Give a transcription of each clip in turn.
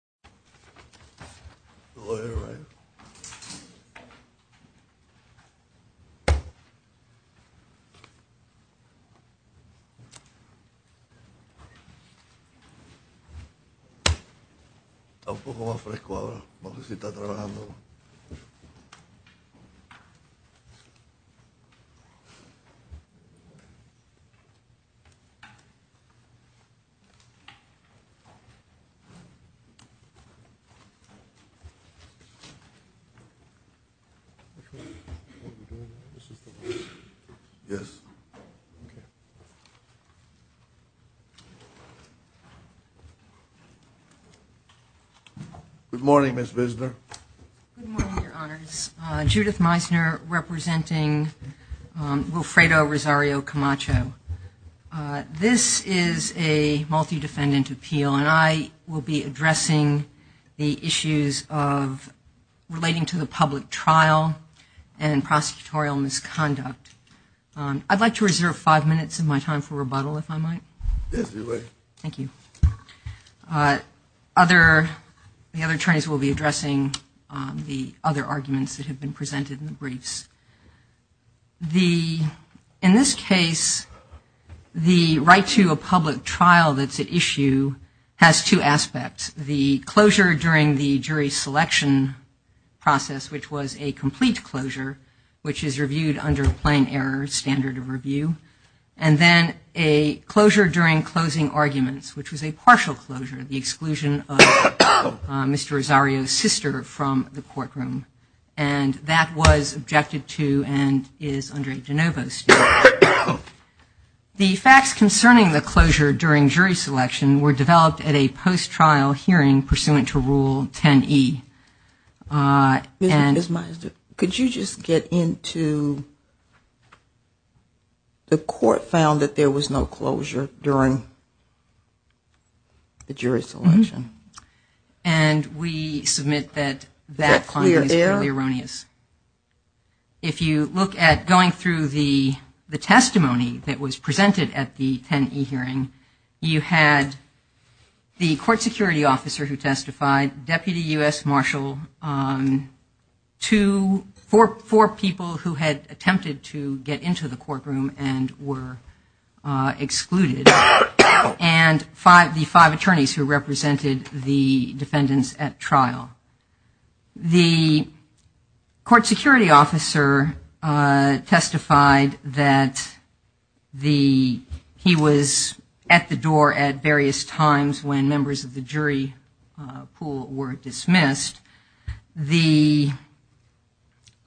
Everything is fine. It's a little cooler now. I don't need to work anymore. Good morning, Ms. Visner. Good morning, Your Honors. Judith Meisner representing Wilfredo Rosario Camacho. This is a multi-defendant appeal, and I will be addressing the issues relating to the public trial and prosecutorial misconduct. I'd like to reserve five minutes of my time for rebuttal, if I might. Yes, please. Thank you. The other attorneys will be addressing the other arguments that have been presented in the briefs. In this case, the right to a public trial that's at issue has two aspects. The closure during the jury selection process, which was a complete closure, which is reviewed under a plain error standard of review. And then a closure during closing arguments, which was a partial closure, the exclusion of Mr. Rosario's sister from the courtroom. And that was objected to and is under a de novo standard. The facts concerning the closure during jury selection were developed at a post-trial hearing pursuant to Rule 10e. Ms. Meisner, could you just get into the court found that there was no closure during the jury selection? And we submit that that finding is fairly erroneous. If you look at going through the testimony that was presented at the 10e hearing, you had the court security officer who testified, Deputy U.S. Marshal, four people who had attempted to get into the courtroom and were excluded, and the five attorneys who represented the defendants at trial. The court security officer testified that he was at the door at various times when members of the jury pool were dismissed,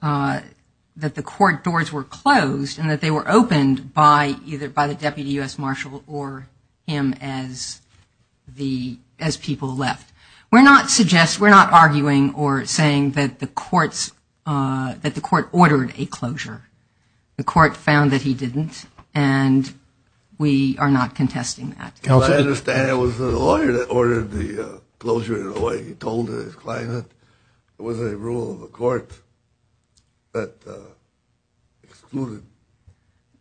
that the court doors were closed and that they were opened either by the Deputy U.S. Marshal or him as people left. We're not arguing or saying that the court ordered a closure. The court found that he didn't, and we are not contesting that. I understand it was the lawyer that ordered the closure in Hawaii. He told his client that there was a rule in the court that excluded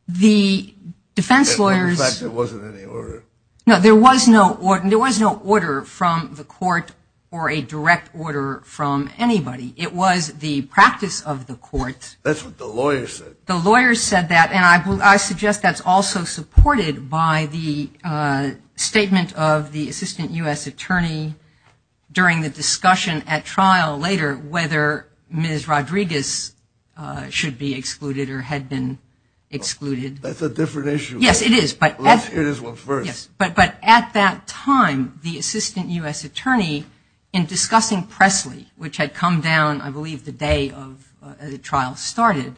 the fact that there wasn't any order. No, there was no order from the court or a direct order from anybody. It was the practice of the courts. That's what the lawyers said. The lawyers said that, and I suggest that's also supported by the statement of the Assistant U.S. Attorney during the discussion at trial later, whether Ms. Rodriguez should be excluded or had been excluded. That's a different issue. Yes, it is. It is what's first. Yes, but at that time, the Assistant U.S. Attorney, in discussing Pressley, which had come down, I believe, the day the trial started,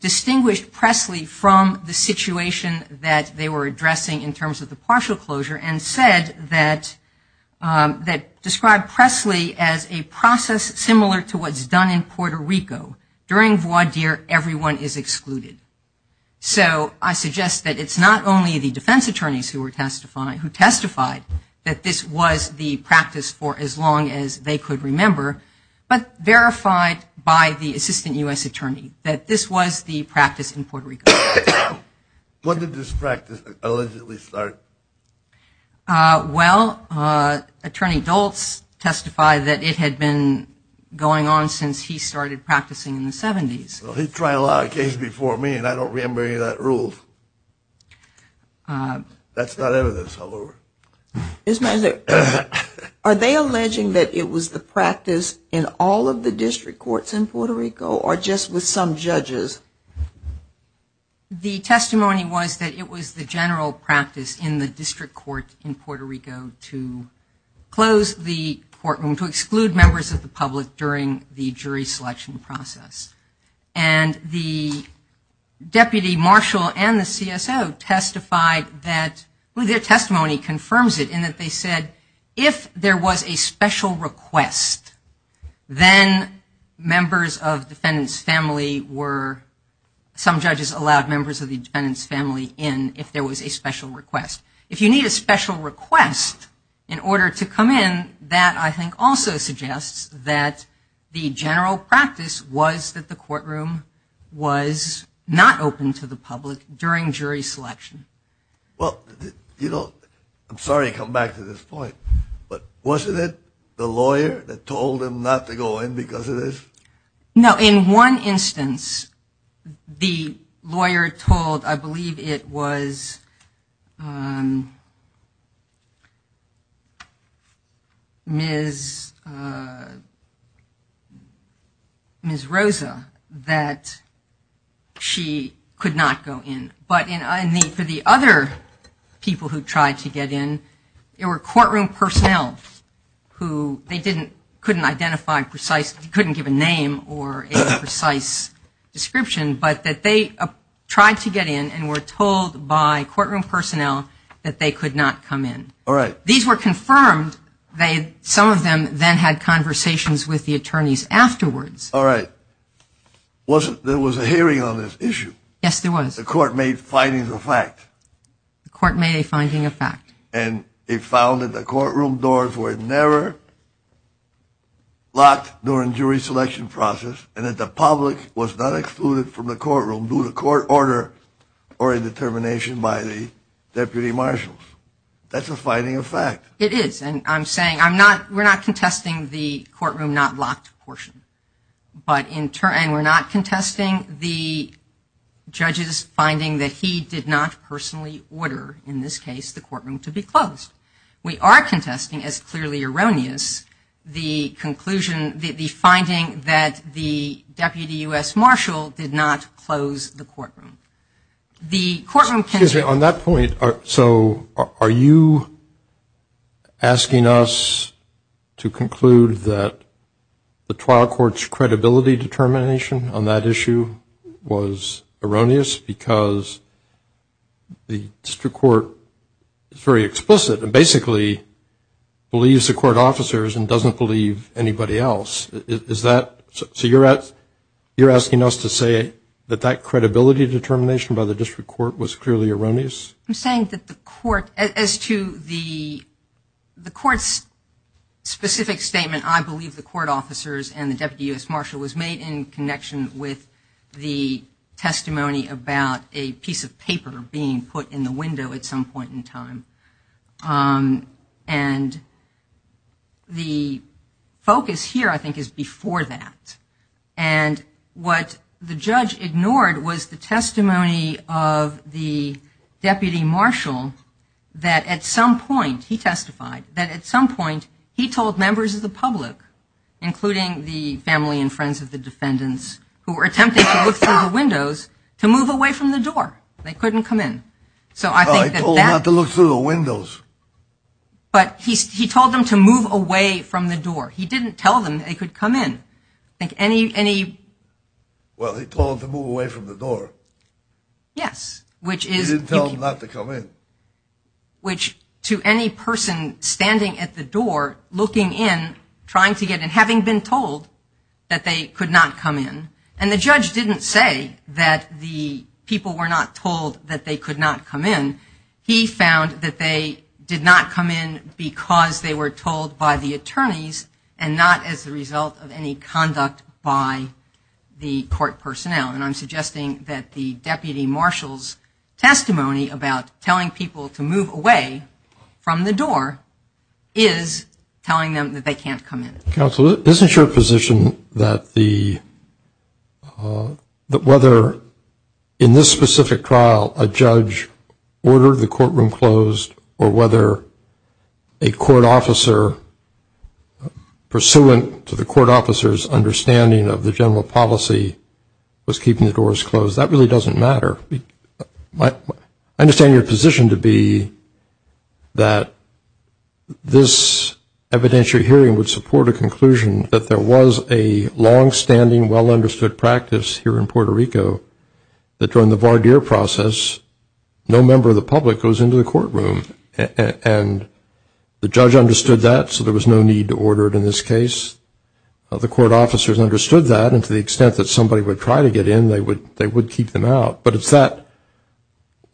distinguished Pressley from the situation that they were addressing in terms of the partial closure and said that, described Pressley as a process similar to what's done in Puerto Rico. During voir dire, everyone is excluded. So I suggest that it's not only the defense attorneys who testified that this was the practice for as long as they could remember, but verified by the Assistant U.S. Attorney that this was the practice in Puerto Rico. When did this practice allegedly start? Well, Attorney Doltz testified that it had been going on since he started practicing in the 70s. He tried a lot of cases before me, and I don't remember any of that rule. That's not evidence, however. Are they alleging that it was the practice in all of the district courts in Puerto Rico or just with some judges? The testimony was that it was the general practice in the district courts in Puerto Rico to close the courtroom, to exclude members of the public during the jury selection process. And the Deputy Marshal and the CSO testified that their testimony confirms it in that they said, if there was a special request, then members of the defendant's family were, some judges allowed members of the defendant's family in if there was a special request. If you need a special request in order to come in, that, I think, also suggests that the general practice was that the courtroom was not open to the public during jury selection. Well, you know, I'm sorry to come back to this point, but wasn't it the lawyer that told him not to go in because of this? No, in one instance, the lawyer told, I believe it was Ms. Rosa, that she could not go in. But I think for the other people who tried to get in, there were courtroom personnel who they couldn't give a name or a precise description, but that they tried to get in and were told by courtroom personnel that they could not come in. All right. These were confirmed. Some of them then had conversations with the attorneys afterwards. All right. There was a hearing on this issue. Yes, there was. The court made findings of fact. The court made a finding of fact. And it found that the courtroom doors were never locked during jury selection process and that the public was not excluded from the courtroom due to court order or a determination by the deputy marshals. That's a finding of fact. It is. And I'm saying we're not contesting the courtroom not locked portion. And we're not contesting the judge's finding that he did not personally order, in this case, the courtroom to be closed. We are contesting, as clearly erroneous, the finding that the deputy U.S. marshal did not close the courtroom. Excuse me. On that point, so are you asking us to conclude that the trial court's credibility determination on that issue was erroneous because the district court is very explicit and basically believes the court officers and doesn't believe anybody else? So you're asking us to say that that credibility determination by the district court was clearly erroneous? I'm saying that the court, as to the court's specific statement, I believe the court officers and the deputy U.S. marshal was made in connection with the testimony about a piece of paper being put in the window at some point in time. And the focus here, I think, is before that. And what the judge ignored was the testimony of the deputy marshal that at some point, he testified, that at some point he told members of the public, including the family and friends of the defendants who were attempting to look through the windows, to move away from the door. They couldn't come in. He told them not to look through the windows. But he told them to move away from the door. He didn't tell them they could come in. Well, he told them to move away from the door. Yes. He didn't tell them not to come in. Which, to any person standing at the door, looking in, trying to get in, having been told that they could not come in, and the judge didn't say that the people were not told that they could not come in. He found that they did not come in because they were told by the attorneys and not as a result of any conduct by the court personnel. And I'm suggesting that the deputy marshal's testimony about telling people to move away from the door is telling them that they can't come in. Counsel, isn't your position that whether, in this specific trial, a judge ordered the courtroom closed or whether a court officer, pursuant to the court officer's understanding of the general policy, was keeping the doors closed? That really doesn't matter. I understand your position to be that this evidentiary hearing would support a conclusion that there was a longstanding, well-understood practice here in Puerto Rico that during the voir dire process, no member of the public goes into the courtroom. And the judge understood that, so there was no need to order it in this case. The court officers understood that, and to the extent that somebody would try to get in, they would keep them out. But it's that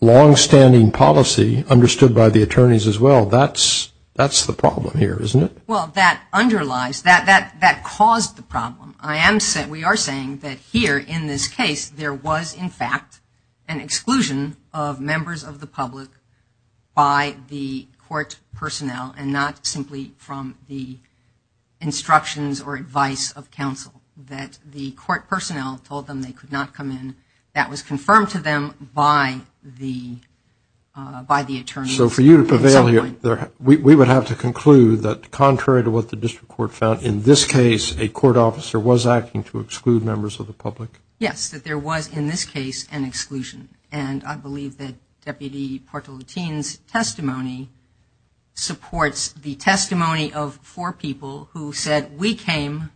longstanding policy, understood by the attorneys as well, that's the problem here, isn't it? Well, that underlies, that caused the problem. We are saying that here, in this case, there was, in fact, an exclusion of members of the public by the court personnel and not simply from the instructions or advice of counsel, that the court personnel told them they could not come in. That was confirmed to them by the attorney. So for you to prevail here, we would have to conclude that, contrary to what the district court found, in this case, a court officer was acting to exclude members of the public? Yes, that there was, in this case, an exclusion. And I believe that Deputy Portolatin's testimony supports the testimony of four people who said, we came,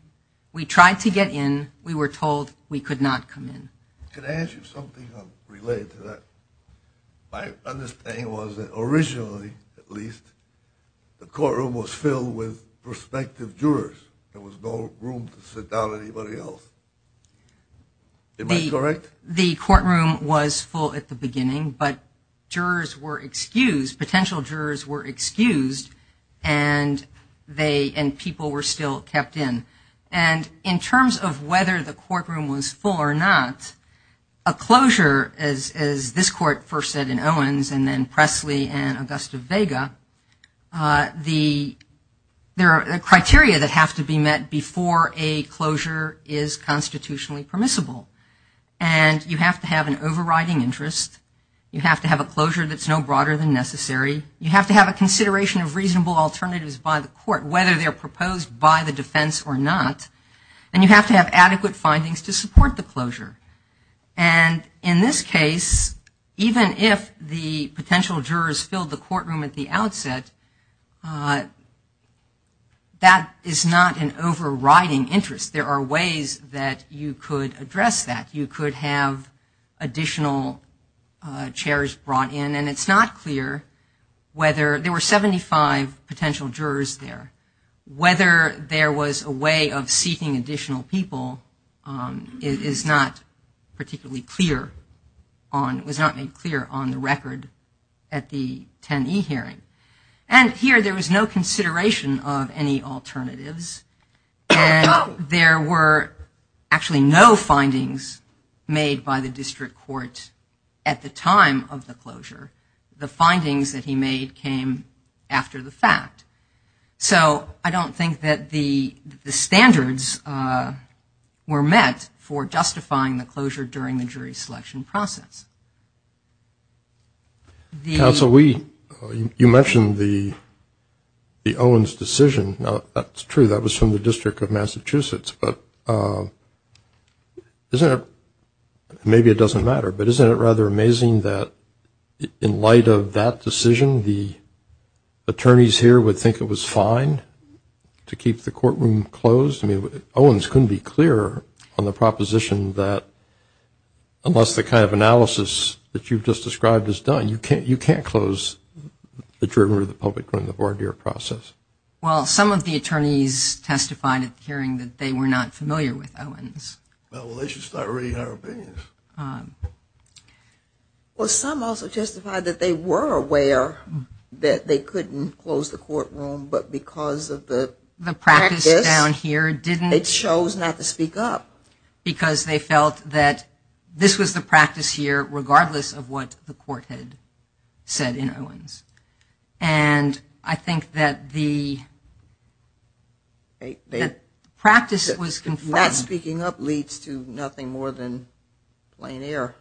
we tried to get in, we were told we could not come in. Can I ask you something related to that? My understanding was that originally, at least, the courtroom was filled with prospective jurors. There was no room to sit down anybody else. Am I correct? The courtroom was full at the beginning, but jurors were excused, potential jurors were excused, and people were still kept in. And in terms of whether the courtroom was full or not, a closure, as this court first said in Owens and then Pressley and Augusta Vega, there are criteria that have to be met before a closure is constitutionally permissible. And you have to have an overriding interest. You have to have a closure that's no broader than necessary. You have to have a consideration of reasonable alternatives by the court, whether they're proposed by the defense or not. And you have to have adequate findings to support the closure. And in this case, even if the potential jurors filled the courtroom at the outset, that is not an overriding interest. There are ways that you could address that. You could have additional chairs brought in. And it's not clear whether there were 75 potential jurors there. Whether there was a way of seeking additional people is not particularly clear on the record at the 10E hearing. And here there was no consideration of any alternatives. And there were actually no findings made by the district courts at the time of the closure. The findings that he made came after the fact. So I don't think that the standards were met for justifying the closure during the jury selection process. Counsel, you mentioned the Owens decision. Now, that's true. That was from the District of Massachusetts. But maybe it doesn't matter. But isn't it rather amazing that in light of that decision, the attorneys here would think it was fine to keep the courtroom closed? Owens couldn't be clearer on the proposition that unless the kind of analysis that you've just described is done, you can't close the jury or the public court in the voir dire process. Well, some of the attorneys testified at the hearing that they were not familiar with Owens. Well, they should start reading their opinions. Well, some also testified that they were aware that they couldn't close the courtroom but because of the practice. Well, some attorneys down here didn't. They chose not to speak up. Because they felt that this was the practice here regardless of what the court had said in Owens. And I think that the practice was conflicting. Not speaking up leads to nothing more than plain error.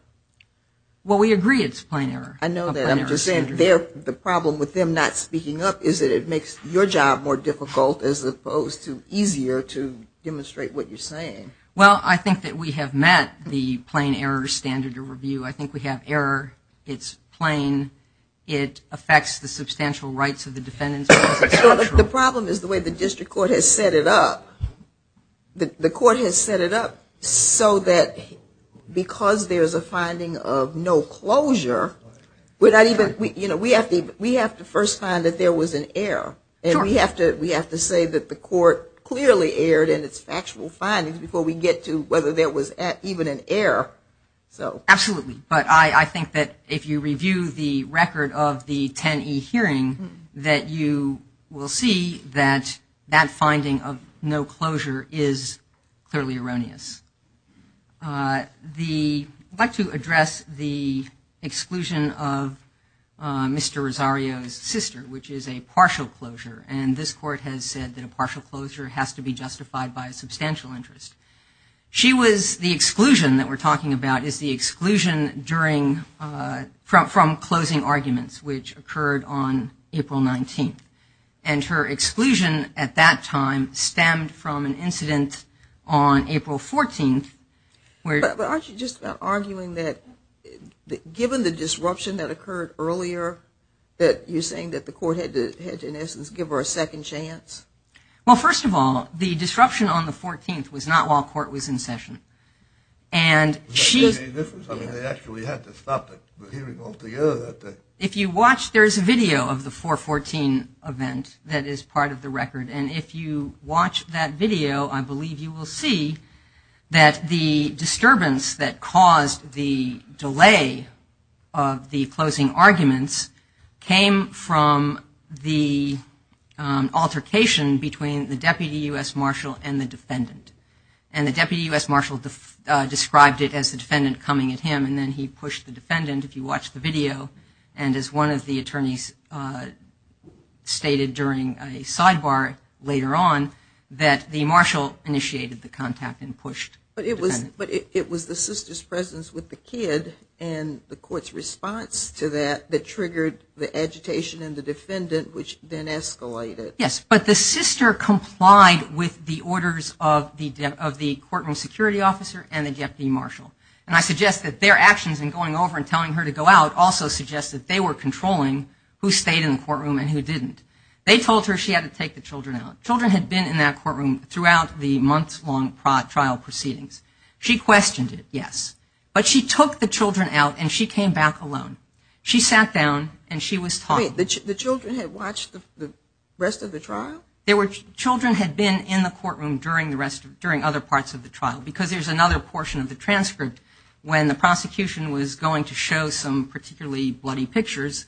Well, we agree it's plain error. I know that. I'm just saying the problem with them not speaking up is that it makes your job more difficult as opposed to easier to demonstrate what you're saying. Well, I think that we have met the plain error standard of review. I think we have error. It's plain. It affects the substantial rights of the defendants. The problem is the way the district court has set it up. The court has set it up so that because there's a finding of no closure, we have to first find that there was an error. And we have to say that the court clearly erred in its factual findings before we get to whether there was even an error. Absolutely. But I think that if you review the record of the 10E hearing, that you will see that that finding of no closure is clearly erroneous. I'd like to address the exclusion of Mr. Rosario's sister, which is a partial closure. And this court has said that a partial closure has to be justified by a substantial interest. She was the exclusion that we're talking about is the exclusion from closing arguments, which occurred on April 19th. And her exclusion at that time stemmed from an incident on April 14th. But aren't you just arguing that given the disruption that occurred earlier, that you're saying that the court had to, in essence, give her a second chance? Well, first of all, the disruption on the 14th was not while the court was in session. And she... I mean, they actually had to stop the hearing altogether that day. If you watch, there's a video of the 4-14 event that is part of the record. And if you watch that video, I believe you will see that the disturbance that caused the delay of the closing arguments came from the altercation between the Deputy U.S. Marshall and the defendant. And the Deputy U.S. Marshall described it as the defendant coming at him. And then he pushed the defendant, if you watch the video. And as one of the attorneys stated during a sidebar later on, that the Marshall initiated the contact and pushed the defendant. But it was the sister's presence with the kid and the court's response to that that triggered the agitation in the defendant, which then escalated. Yes, but the sister complied with the orders of the court and security officer and the Deputy Marshall. And I suggest that their actions in going over and telling her to go out also suggests that they were controlling who stayed in the courtroom and who didn't. They told her she had to take the children out. Children had been in that courtroom throughout the months-long trial proceedings. She questioned it, yes. But she took the children out and she came back alone. She sat down and she was taught... Wait, the children had watched the rest of the trial? Children had been in the courtroom during other parts of the trial. Because there's another portion of the transcript when the prosecution was going to show some particularly bloody pictures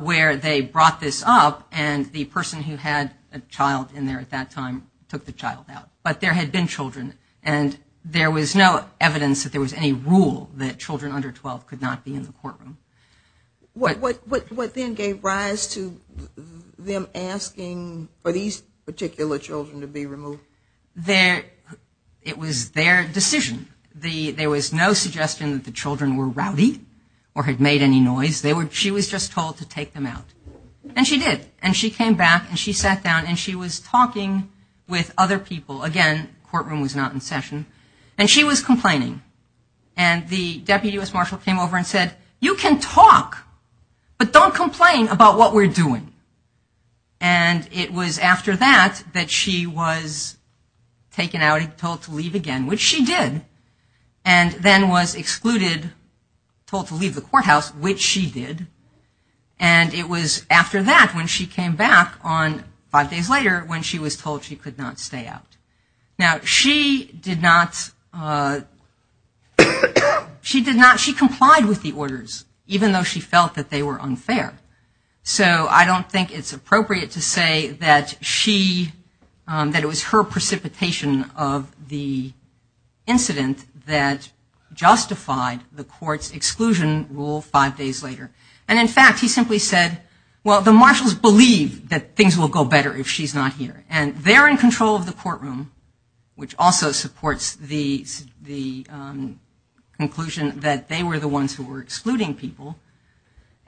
where they brought this up and the person who had a child in there at that time took the child out. But there had been children. And there was no evidence that there was any rule that children under 12 could not be in the courtroom. What then gave rise to them asking for these particular children to be removed? It was their decision. There was no suggestion that the children were rowdy or had made any noise. She was just told to take them out. And she did. And she came back and she sat down and she was talking with other people. Again, courtroom was not in session. And she was complaining. And the deputy U.S. marshal came over and said, you can talk, but don't complain about what we're doing. And it was after that that she was taken out and told to leave again, which she did. And then was excluded, told to leave the courthouse, which she did. And it was after that when she came back on five days later when she was told she could not stay out. Now, she did not, she did not, she complied with the orders, even though she felt that they were unfair. So I don't think it's appropriate to say that she, that it was her precipitation of the incident that justified the court's exclusion rule five days later. And in fact, he simply said, well, the marshals believe that things will go better if she's not here. And they're in control of the courtroom, which also supports the conclusion that they were the ones who were excluding people.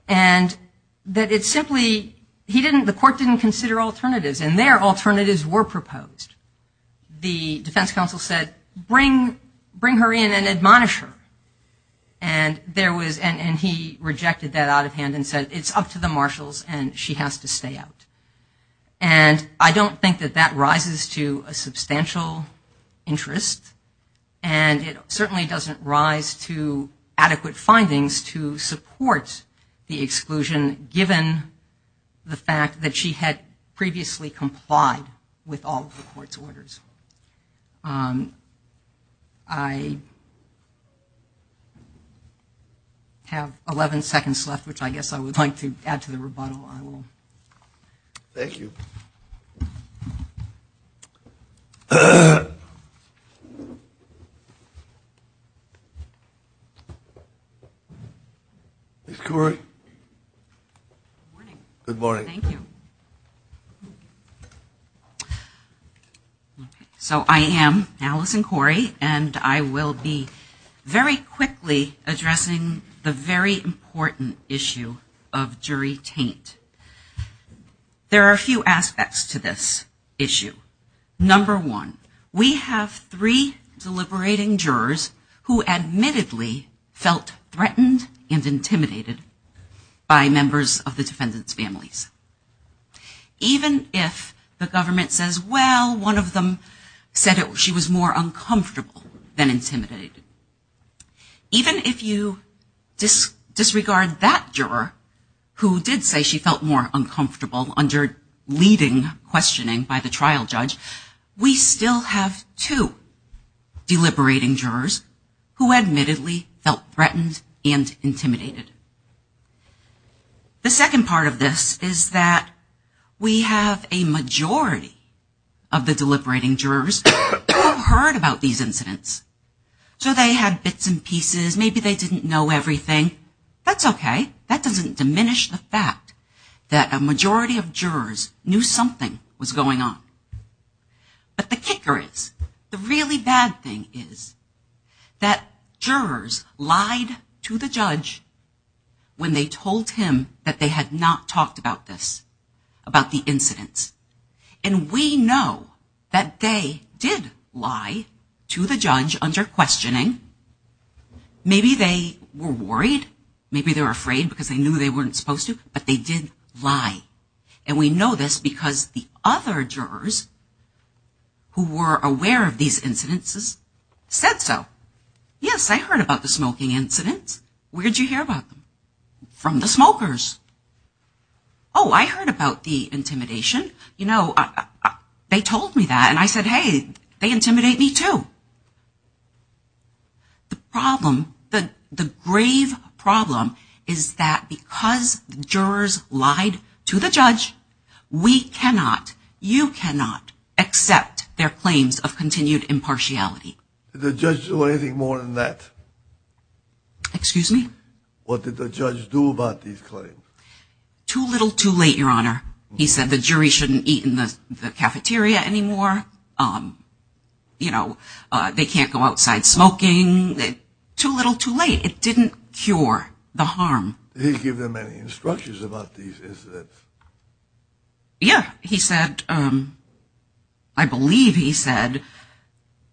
And that it simply, he didn't, the court didn't consider alternatives. And there, alternatives were proposed. The defense counsel said, bring her in and admonish her. And there was, and he rejected that out of hand and said, it's up to the marshals and she has to stay out. And I don't think that that rises to a substantial interest. And it certainly doesn't rise to adequate findings to support the exclusion, given the fact that she had previously complied with all of the court's orders. I have 11 seconds left, which I guess I would like to add to the rebuttal. I will. Thank you. Ms. Corey. Good morning. Good morning. Thank you. So I am Allison Corey and I will be very quickly addressing the very important issue of jury taint. There are a few aspects to this issue. Number one, we have three deliberating jurors who admittedly felt threatened and intimidated by members of the defendant's families. Even if the government says, well, one of them said she was more uncomfortable than intimidated. Even if you disregard that juror who did say she felt more uncomfortable under leading questioning by the trial judge, we still have two deliberating jurors who admittedly felt threatened and intimidated. The second part of this is that we have a majority of the deliberating jurors who have heard about these incidents. So they had bits and pieces, maybe they didn't know everything. That's okay. That doesn't diminish the fact that a majority of jurors knew something was going on. But the kicker is, the really bad thing is that jurors lied to the judge when they told him that they had not talked about this, about the incident. And we know that they did lie to the judge under questioning. Maybe they were worried. Maybe they were afraid because they knew they weren't supposed to. But they did lie. And we know this because the other jurors who were aware of these incidences said so. Yes, I heard about the smoking incident. Where did you hear about it? From the smokers. Oh, I heard about the intimidation. You know, they told me that. And I said, hey, they intimidate me too. The problem, the grave problem is that because jurors lied to the judge, we cannot, you cannot accept their claims of continued impartiality. Did the judge do anything more than that? Excuse me? What did the judge do about these claims? Too little, too late, Your Honor. He said the jury shouldn't eat in the cafeteria anymore. You know, they can't go outside smoking. Too little, too late. It didn't cure the harm. Did he give them any instructions about these incidents? Yes, he said, I believe he said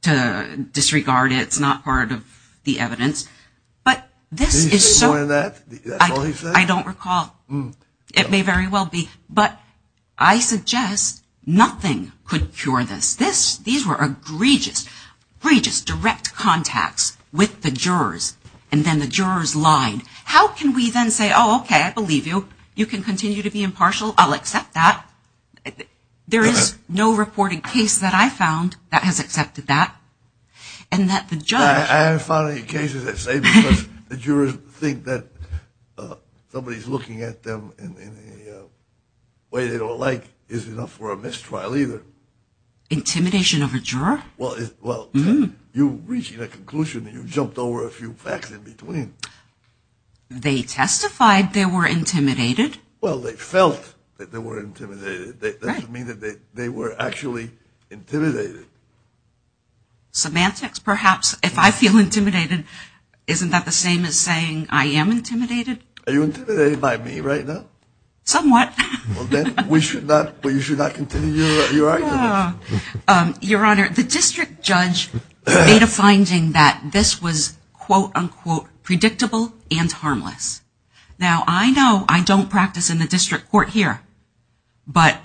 to disregard it. It's not part of the evidence. But this is so... He said more than that? Is that all he said? I don't recall. It may very well be. But I suggest nothing could cure this. These were egregious, egregious direct contacts with the jurors. And then the jurors lied. How can we then say, oh, okay, I believe you. You can continue to be impartial. I'll accept that. There is no reporting case that I found that has accepted that. And that the judge... I haven't found any cases that say because the jurors think that somebody's looking at them in a way they don't like is enough for a mistrial either. Intimidation of a juror? Well, you're reaching a conclusion that you've jumped over a few facts in between. They testified they were intimidated. Well, they felt that they were intimidated. That should mean that they were actually intimidated. Semantics, perhaps. If I feel intimidated, isn't that the same as saying I am intimidated? Are you intimidated by me right now? Somewhat. Okay. We should not continue your argument. Your Honor, the district judge made a finding that this was quote, unquote, predictable and harmless. Now, I know I don't practice in the district court here. But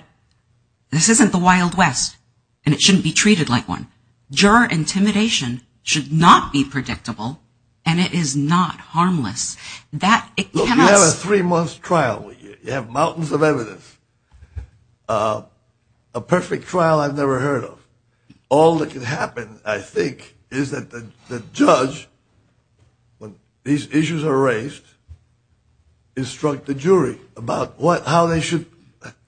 this isn't the Wild West, and it shouldn't be treated like one. Juror intimidation should not be predictable, and it is not harmless. You have a three-month trial. You have mountains of evidence. A perfect trial I've never heard of. All that can happen, I think, is that the judge, when these issues are raised, instruct the jury about how they should,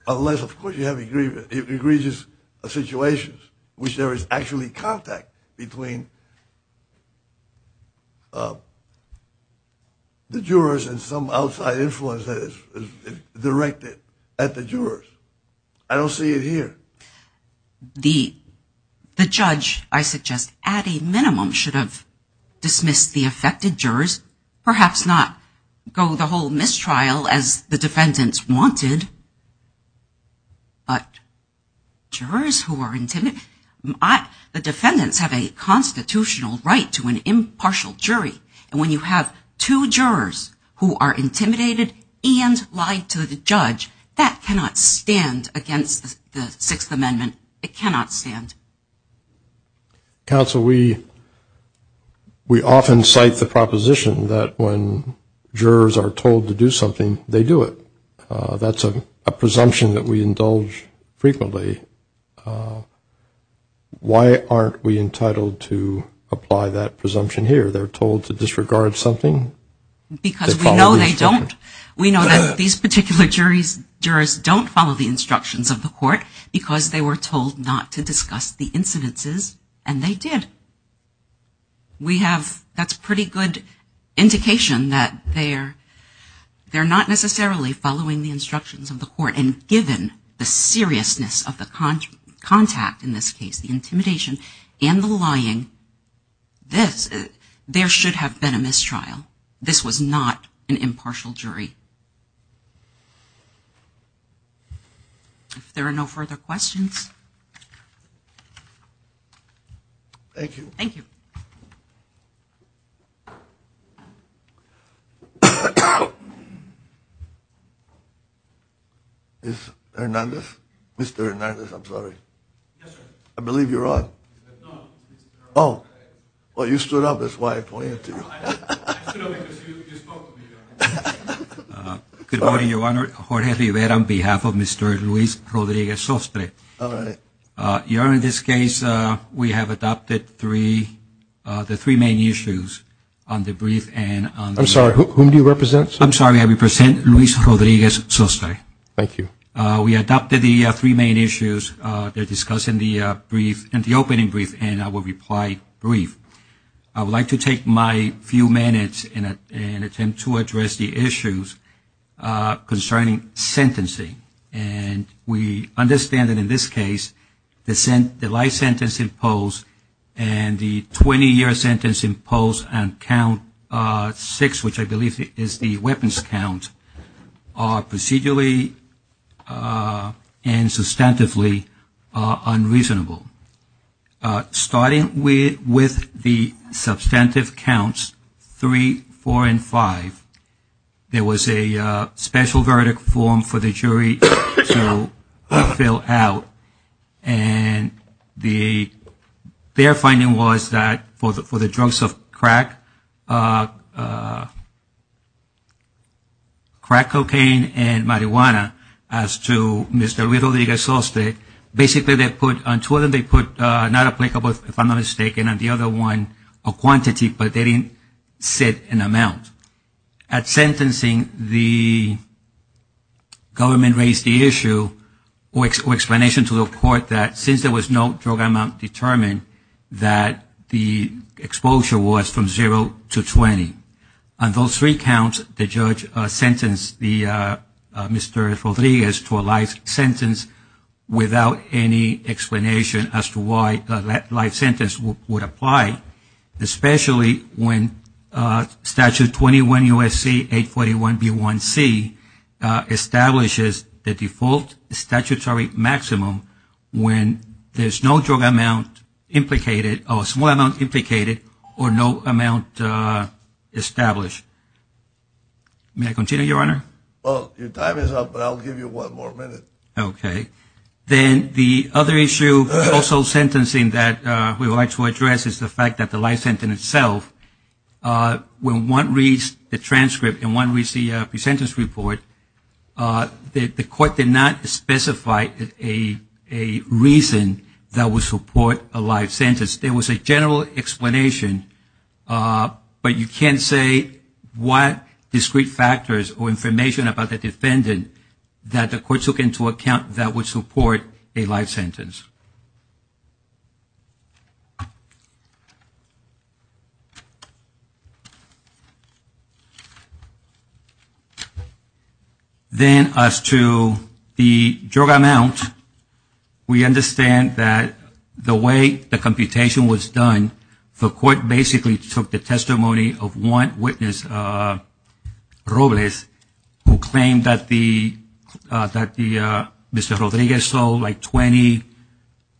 unless, of course, you have egregious situations in which there is actually contact between the jurors and some outside influence that is directed at the jurors. I don't see it here. The judge, I suggest, at a minimum should have dismissed the affected jurors. Perhaps not go the whole mistrial as the defendants wanted. But jurors who are intimidated, the defendants have a constitutional right to an impartial jury. And when you have two jurors who are intimidated and lie to the judge, that cannot stand against the Sixth Amendment. It cannot stand. Counsel, we often cite the proposition that when jurors are told to do something, they do it. That's a presumption that we indulge frequently. Why aren't we entitled to apply that presumption here? They're told to disregard something? Because we know they don't. We know that these particular jurors don't follow the instructions of the court because they were told not to discuss the incidences. And they did. We have, that's pretty good indication that they're not necessarily following the instructions of the court. And given the seriousness of the contact in this case, the intimidation and the lying, there should have been a mistrial. This was not an impartial jury. If there are no further questions. Thank you. Mr. Hernandez? Mr. Hernandez, I'm sorry. Yes, sir. I believe you're on. No. Oh. Well, you stood up. That's why I pointed at you. I stood up because you spoke to me. Good morning, Your Honor. Jorge Rivera on behalf of Mr. Luis Rodriguez-Sosta. All right. Your Honor, in this case, we have adopted the three main issues on the brief and on the brief. I'm sorry. Who do you represent? I'm sorry. I represent Luis Rodriguez-Sosta. Thank you. We adopted the three main issues that are discussed in the brief, in the opening brief and our reply brief. I would like to take my few minutes and attempt to address the issues concerning sentencing. And we understand that in this case, the life sentence imposed and the 20-year sentence imposed on count six, which I believe is the weapons count, are procedurally and substantively unreasonable. Starting with the substantive counts three, four, and five, there was a special verdict form for the jury to fill out. And their finding was that for the drugs of crack, crack cocaine and marijuana, as to Mr. Rodriguez-Sosta, basically they put on two of them, they put not applicable, if I'm not mistaken, on the other one, a quantity, but they didn't set an amount. At sentencing, the government raised the issue or explanation to the court that since there was no drug amount determined, that the exposure was from zero to 20. On those three counts, the judge sentenced Mr. Rodriguez to a life sentence without any explanation as to why that life sentence would apply, especially when Statute 21 U.S.C. 841 B.1.C. establishes the default statutory maximum when there's no drug amount implicated or small amount implicated or no amount established. May I continue, Your Honor? Well, your time is up, but I'll give you one more minute. Okay. Then the other issue also sentencing that we would like to address is the fact that the life sentence itself, when one reads the transcript and one reads the sentence report, the court did not specify a reason that would support a life sentence. There was a general explanation, but you can't say what discrete factors or information about the defendant that the court took into account that would support a life sentence. Then as to the drug amount, we understand that the way the computation was done, the court basically took the testimony of one witness, Robles, who claimed that Mr. Rodriguez sold like 20,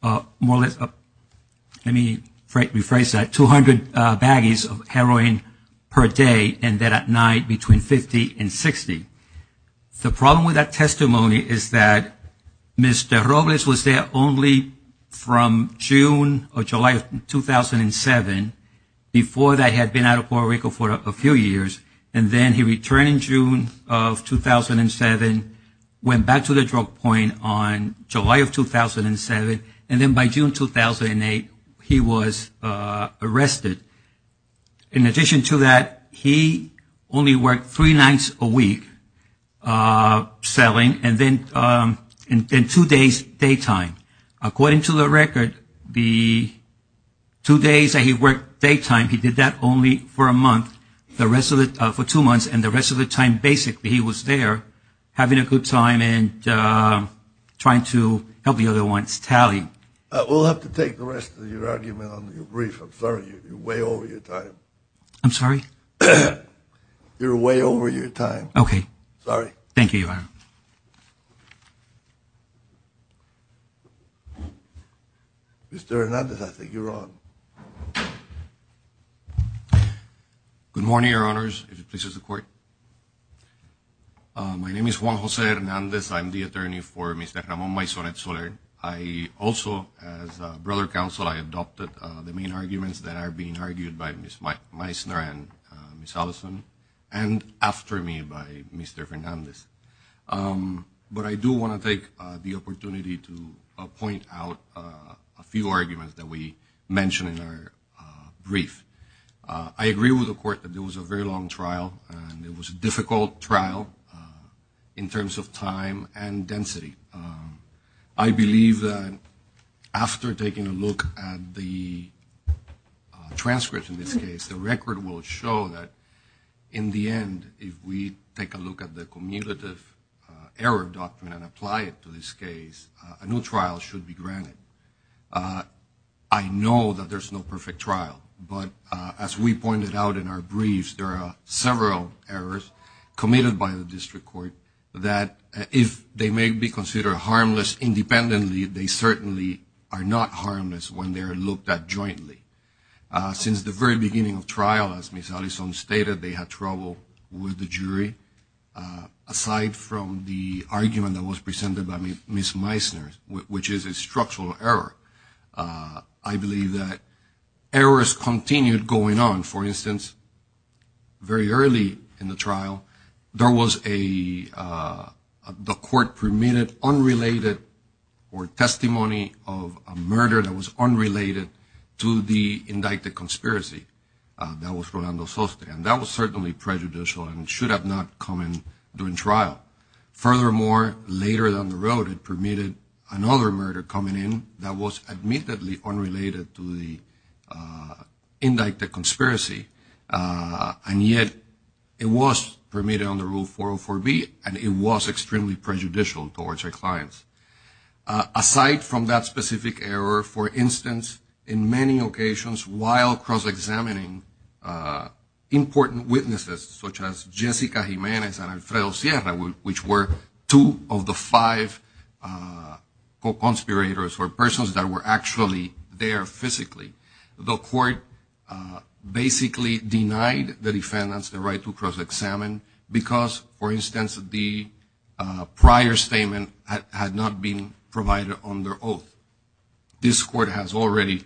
well, let me rephrase that, 200 baggies of heroin per day and then at night between 50 and 60. The problem with that testimony is that Mr. Robles was there only from June or July of 2007 before they had been out of Puerto Rico for a few years, and then he returned in June of 2007, went back to the drug point on July of 2007, and then by June 2008 he was arrested. In addition to that, he only worked three nights a week selling and then two days daytime. According to the record, the two days that he worked daytime, he did that only for a month, for two months, and the rest of the time basically he was there having a good time and trying to help the other ones, tally. We'll have to take the rest of your argument on your brief. I'm sorry. You're way over your time. I'm sorry? You're way over your time. Okay. Sorry. Thank you. Mr. Hernandez, I think you're on. Good morning, Your Honors. If it pleases the Court. My name is Juan Jose Hernandez. I'm the attorney for Mr. Ramon Maison and Soler. I also, as a brother counsel, I adopted the main arguments that are being argued by Ms. Meisner and Ms. Allison, and after me by Mr. Hernandez. But I do want to take the opportunity to point out a few arguments that we mentioned in our brief. I agree with the Court that there was a very long trial, and it was a difficult trial in terms of time and density. I believe that after taking a look at the transcripts in this case, the record will show that in the end if we take a look at the cumulative error doctrine and apply it to this case, a new trial should be granted. I know that there's no perfect trial, but as we pointed out in our briefs, there are several errors committed by the District Court that if they may be considered harmless independently, they certainly are not harmless when they are looked at jointly. Since the very beginning of trial, as Ms. Allison stated, they had trouble with the jury. Aside from the argument that was presented by Ms. Meisner, which is a structural error, I believe that errors continued going on. For instance, very early in the trial, there was a court-permitted unrelated or testimony of a murder that was unrelated to the indicted conspiracy. That was Fernando Soste, and that was certainly prejudicial and should have not come in during trial. Furthermore, later down the road, it permitted another murder coming in that was admittedly unrelated to the indicted conspiracy, and yet it was permitted under Rule 404B, and it was extremely prejudicial towards their clients. Aside from that specific error, for instance, in many occasions, while cross-examining important witnesses such as Jessica Jimenez and Alfredo Sierra, which were two of the five co-conspirators or persons that were actually there physically, the court basically denied the defendants the right to cross-examine because, for instance, the prior statement had not been provided under oath. This court has already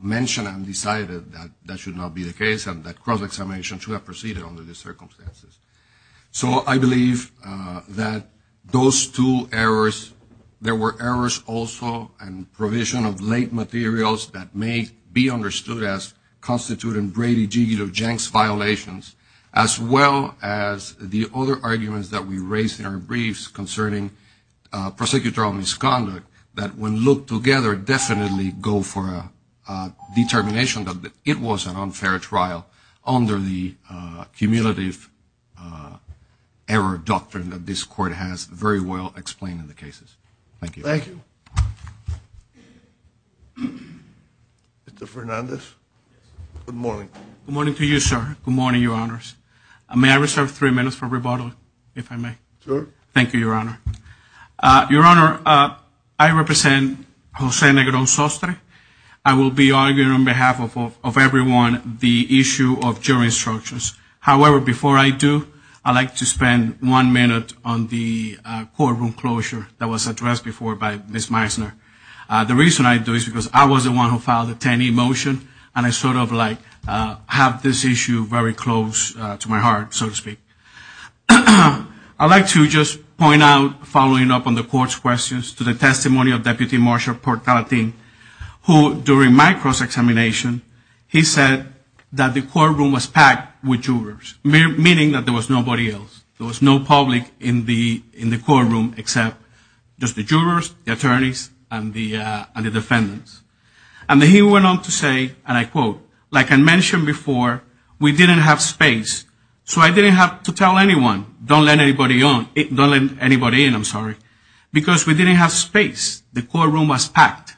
mentioned and decided that that should not be the case and that cross-examination should have proceeded under these circumstances. So I believe that those two errors, there were errors also in provision of late materials that may be understood as constituting Brady-Giegel-Jenks violations, as well as the other arguments that we raised in our briefs concerning prosecutorial misconduct that when looked together definitely go for a determination that it was an unfair trial under the cumulative error doctrine that this court has very well explained in the cases. Thank you. Thank you. Mr. Fernandez, good morning. Good morning to you, sir. Good morning, Your Honors. May I reserve three minutes for rebuttal, if I may? Sure. Thank you, Your Honor. Your Honor, I represent Jose Negro Sostre. I will be arguing on behalf of everyone the issue of jury instructions. However, before I do, I'd like to spend one minute on the courtroom closure that was addressed before by Ms. Meisner. The reason I do this is because I was the one who filed the 10E motion, and I sort of like have this issue very close to my heart, so to speak. I'd like to just point out, following up on the court's questions, to the testimony of Deputy Marshal Portalatin, who during my cross-examination, he said that the courtroom was packed with jurors, meaning that there was nobody else. There was no public in the courtroom except just the jurors, the attorneys, and the defendants. And he went on to say, and I quote, like I mentioned before, we didn't have space, so I didn't have to tell anyone, don't let anybody in, because we didn't have space. The courtroom was packed.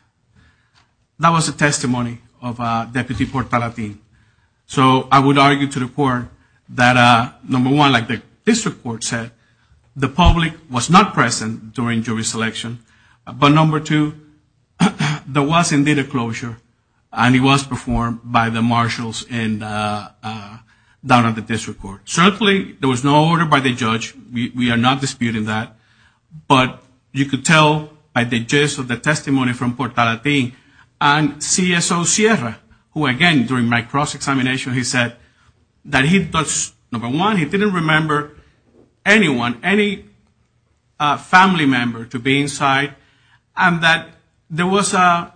That was the testimony of Deputy Portalatin. I would argue to the court that, number one, like the district court said, the public was not present during jury selection, but number two, there was indeed a closure, and it was performed by the marshals down at the district court. Certainly, there was no order by the judge. We are not disputing that, but you could tell by the gist of the testimony from Portalatin. CSO Sierra, who again, during my cross-examination, he said that, number one, he didn't remember anyone, any family member to be inside, and that there was a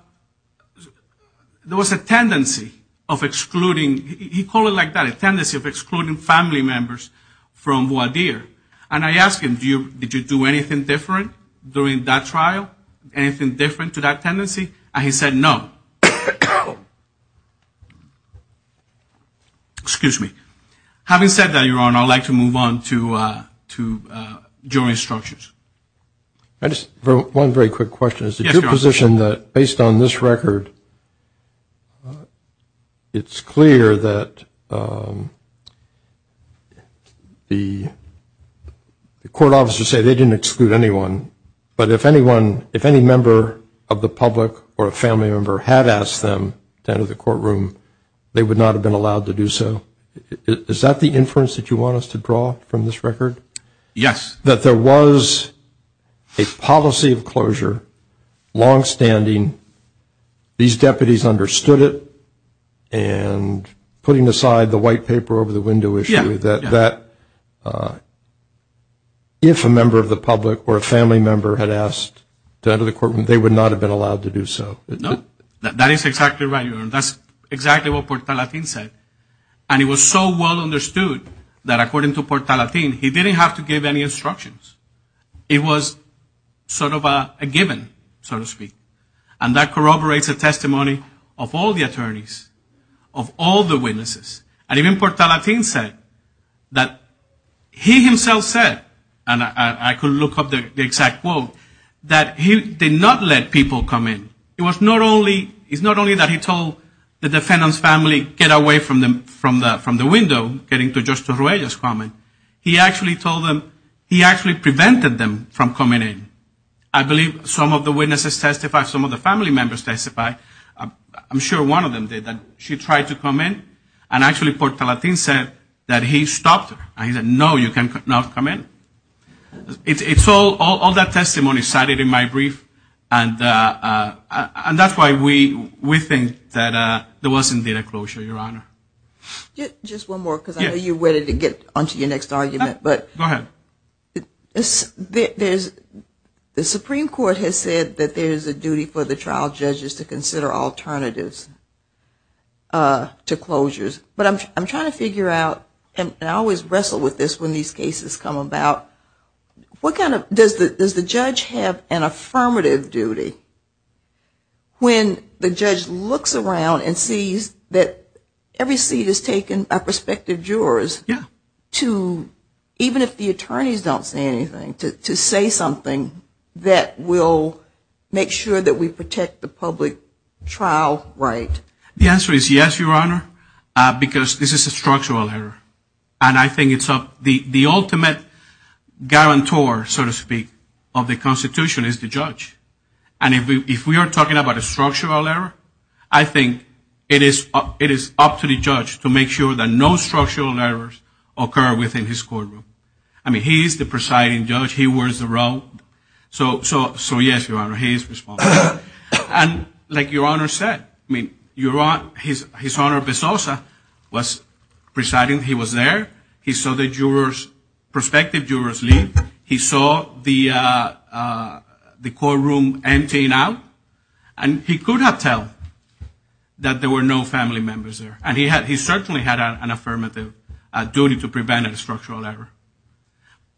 tendency of excluding, he called it like that, a tendency of excluding family members from WADIR. And I asked him, did you do anything different during that trial, anything different to that tendency? And he said no. Excuse me. Having said that, Your Honor, I'd like to move on to jury instructions. One very quick question. Is it your position that, based on this record, it's clear that the court officers say they didn't exclude anyone, but if any member of the public or a family member had asked them to enter the courtroom, they would not have been allowed to do so? Is that the inference that you want us to draw from this record? Yes. That there was a policy of closure, longstanding, these deputies understood it, and putting aside the white paper over the window issue, that if a member of the public or a family member had asked to enter the courtroom, they would not have been allowed to do so? No. That is exactly right, Your Honor. That's exactly what Portalatín said. And it was so well understood that, according to Portalatín, he didn't have to give any instructions. It was sort of a given, so to speak. And that corroborates the testimony of all the attorneys, of all the witnesses. And even Portalatín said that he himself said, and I could look up the exact quote, that he did not let people come in. It's not only that he told the defendant's family to get away from the window, getting to Judge Torruello's comment. He actually told them, he actually prevented them from coming in. I believe some of the witnesses testified, some of the family members testified, I'm sure one of them did, that she tried to come in, and actually Portalatín said that he stopped her. And he said, no, you cannot come in. All that testimony is cited in my brief, and that's why we think that there was indeed a closure, Your Honor. Just one more, because I know you're ready to get on to your next argument. Go ahead. The Supreme Court has said that there is a duty for the trial judges to consider alternatives to closures. But I'm trying to figure out, and I always wrestle with this when these cases come about, what kind of, does the judge have an affirmative duty when the judge looks around and sees that every seat is taken by prospective jurors to, even if the attorneys don't say anything, to say something that will make sure that we protect the public trial right? The answer is yes, Your Honor, because this is a structural error. And I think the ultimate guarantor, so to speak, of the Constitution is the judge. And if we are talking about a structural error, I think it is up to the judge to make sure that no structural errors occur within his courtroom. I mean, he is the presiding judge. He wears the robe. So yes, Your Honor, he is responsible. And like Your Honor said, I mean, His Honor Bezosa was presiding, he was there. He saw the prospective jurors leave. He saw the courtroom emptying out. And he could not tell that there were no family members there. And he certainly had an affirmative duty to prevent a structural error.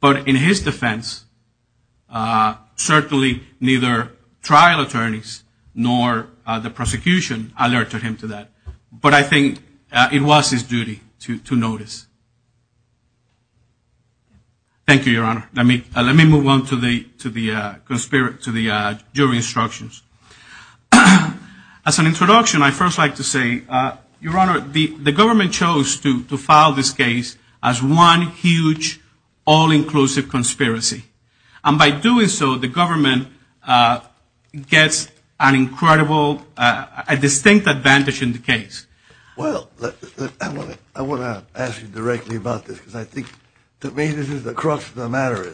But in his defense, certainly neither trial attorneys nor the prosecution alerted him to that. But I think it was his duty to notice. Thank you, Your Honor. Let me move on to the jury instructions. As an introduction, I'd first like to say, Your Honor, the government chose to file this case as one huge all-inclusive conspiracy. And by doing so, the government gets an incredible, a distinct advantage in the case. Well, I want to ask you directly about this, because I think to me this is the crux of the matter.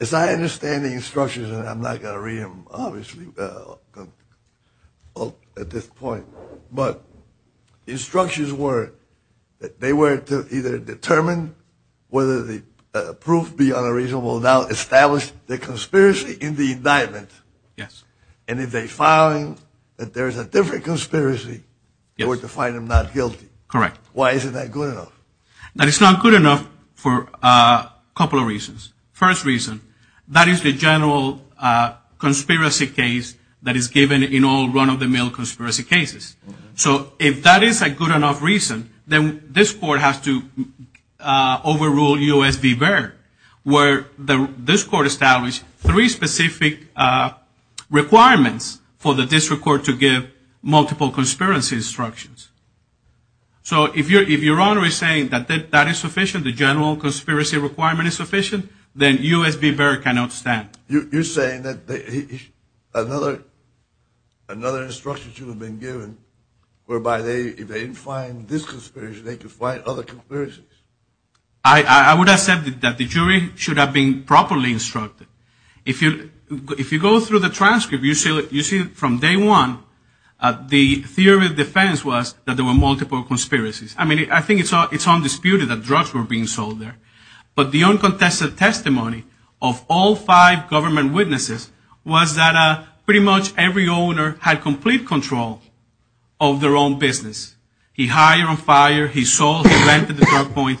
As I understand the instructions, and I'm not going to read them obviously at this point, but the instructions were that they were to either determine whether the proof beyond a reason will now establish the conspiracy in the indictment. And if they found that there's a different conspiracy, they were to find him not guilty. Correct. Why isn't that good enough? That is not good enough for a couple of reasons. First reason, that is the general conspiracy case that is given in all run-of-the-mill conspiracy cases. So if that is a good enough reason, then this court has to overrule U.S. v. Baird, where this court established three specific requirements for the district court to give multiple conspiracy instructions. So if Your Honor is saying that that is sufficient, the general conspiracy requirement is sufficient, then U.S. v. Baird cannot stand. You're saying that another instruction should have been given, whereby if they didn't find this conspiracy, they could find other conspiracies. I would have said that the jury should have been properly instructed. If you go through the transcript, you see from day one, the theory of defense was that there were multiple conspiracies. I mean, I think it's undisputed that drugs were being sold there. But the uncontested testimony of all five government witnesses was that pretty much every owner had complete control of their own business. He hired on fire, he sold, he rented the drug point.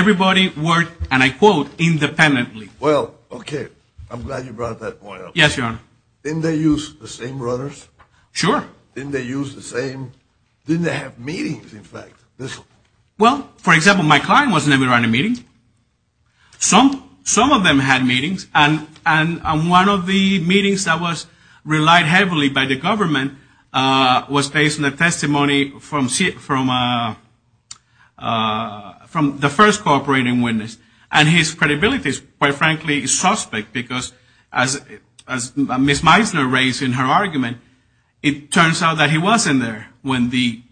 Everybody worked, and I quote, independently. Well, okay. I'm glad you brought that point up. Yes, Your Honor. Didn't they use the same runners? Sure. Didn't they use the same? Didn't they have meetings, in fact? Well, for example, my client was never at a meeting. Some of them had meetings, and one of the meetings that was relied heavily by the government was based on a testimony from the first cooperating witness. And his credibility, quite frankly, is suspect, because as Ms. Meisner raised in her argument, it turns out that he wasn't there when the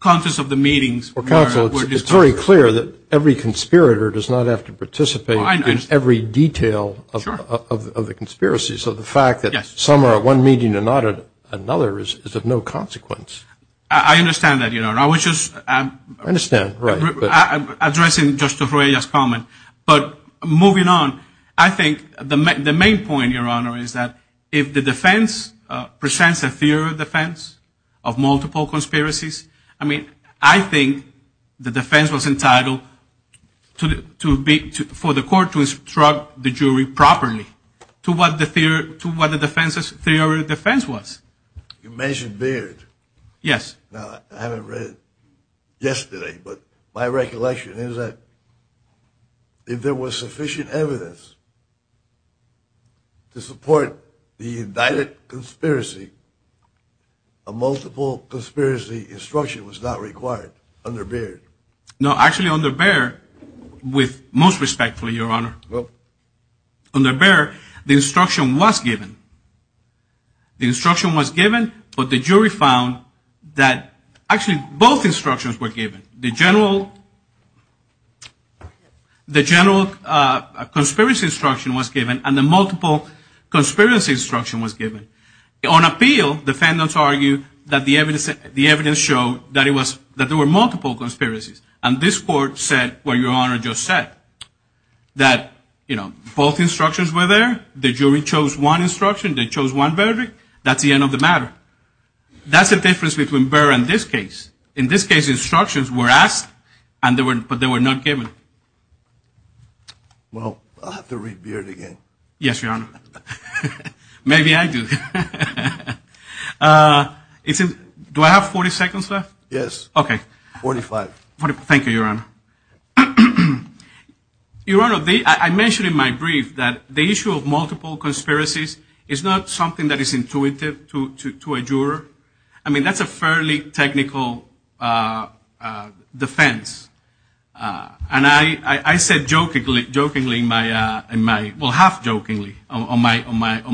contents of the meetings were discovered. It's very clear that every conspirator does not have to participate in every detail of a conspiracy. So the fact that some are at one meeting and not at another is of no consequence. I understand that, Your Honor. I understand, right. I'm addressing Justice Reyes' comment. But moving on, I think the main point, Your Honor, is that if the defense presents a theory of defense of multiple conspiracies, I mean, I think the defense was entitled for the court to instruct the jury properly to what the defense's theory of defense was. You mentioned Baird. Yes. Now, I haven't read it yesterday, but my recollection is that if there was sufficient evidence to support the indicted conspiracy, a multiple conspiracy instruction was not required under Baird. No, actually, under Baird, with most respect, Your Honor, under Baird, the instruction was given. The instruction was given, but the jury found that actually both instructions were given. The general conspiracy instruction was given, and the multiple conspiracy instruction was given. On appeal, defendants argued that the evidence showed that there were multiple conspiracies, and this court said what Your Honor just said, that both instructions were there. The jury chose one instruction. They chose one verdict. That's the end of the matter. That's the difference between Baird and this case. In this case, instructions were asked, but they were not given. Well, I'll have to read Baird again. Yes, Your Honor. Maybe I do. Do I have 40 seconds left? Yes. Okay. Forty-five. Thank you, Your Honor. Your Honor, I mentioned in my brief that the issue of multiple conspiracies is not something that is intuitive to a juror. I mean, that's a fairly technical defense, and I said jokingly, well, half-jokingly on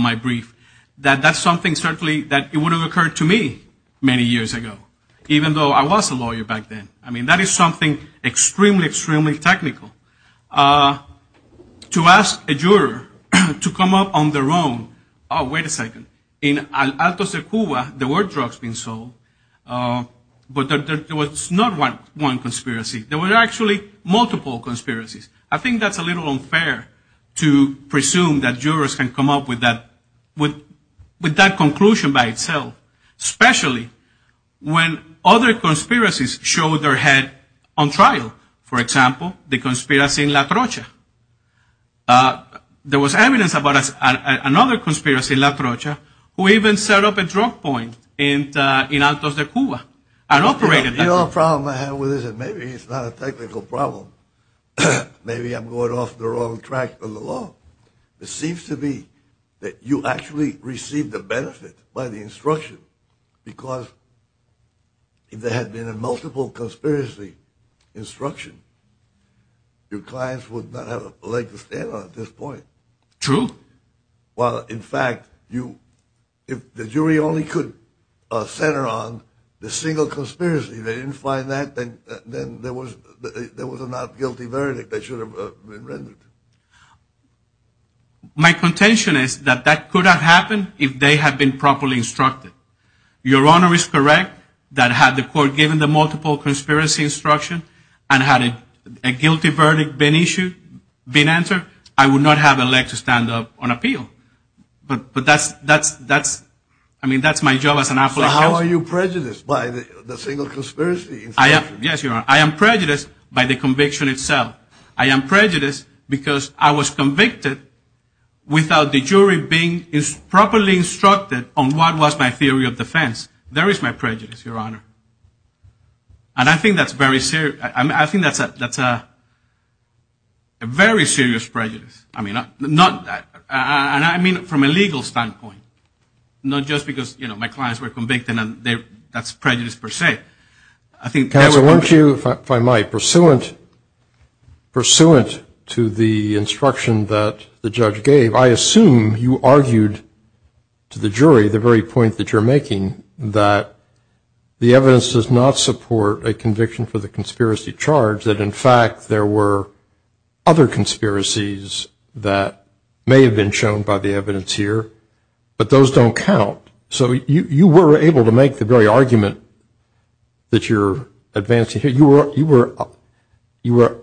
my brief, that that's something certainly that would have occurred to me many years ago, even though I was a lawyer back then. I mean, that is something extremely, extremely technical. To ask a juror to come up on their own, oh, wait a second. In Alto de Cuba, there were drugs being sold, but there was not one conspiracy. There were actually multiple conspiracies. I think that's a little unfair to presume that jurors can come up with that conclusion by itself, especially when other conspiracies show their head on trial. For example, the conspiracy in La Trocha. There was evidence about another conspiracy in La Trocha who even set up a drug point in Alto de Cuba and operated it. The only problem I have with it is maybe it's not a technical problem. Maybe I'm going off the wrong track in the law. It seems to me that you actually receive the benefit by the instruction, because if there had been a multiple conspiracy instruction, your clients would not have a leg to stand on at this point. True. Well, in fact, if the jury only could center on the single conspiracy, they didn't find that, then there was a not guilty verdict that should have been rendered. My contention is that that could have happened if they had been properly instructed. Your Honor is correct that had the court given the multiple conspiracy instruction and had a guilty verdict been issued, been answered, I would not have a leg to stand up on appeal. But that's my job as an applicant. But how are you prejudiced by the single conspiracy instruction? Yes, Your Honor. I am prejudiced by the conviction itself. I am prejudiced because I was convicted without the jury being properly instructed on what was my theory of defense. There is my prejudice, Your Honor. And I think that's very serious. I think that's a very serious prejudice. I mean, not that. And I mean it from a legal standpoint. Not just because, you know, my clients were convicted and that's prejudice per se. Taylor, won't you, if I might, pursuant to the instruction that the judge gave, I assume you argued to the jury the very point that you're making, that the evidence does not support a conviction for the conspiracy charge, that in fact there were other conspiracies that may have been shown by the evidence here. But those don't count. So you were able to make the very argument that you're advancing. You were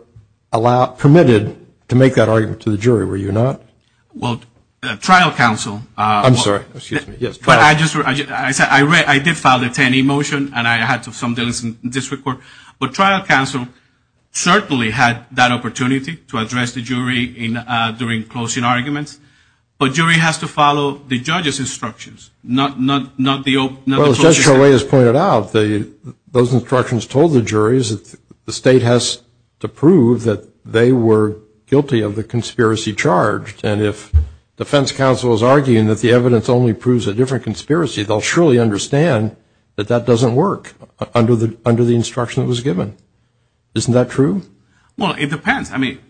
permitted to make that argument to the jury, were you not? Well, the trial counsel- I'm sorry. Excuse me. Yes. I did file the 10E motion and I had some delays in this report. But trial counsel certainly had that opportunity to address the jury during closing arguments. But jury has to follow the judge's instructions, not the- Well, as Judge Cholet has pointed out, those instructions told the juries that the state has to prove that they were guilty of the conspiracy charge. And if defense counsel is arguing that the evidence only proves a different conspiracy, they'll surely understand that that doesn't work under the instruction that was given. Well, it depends. The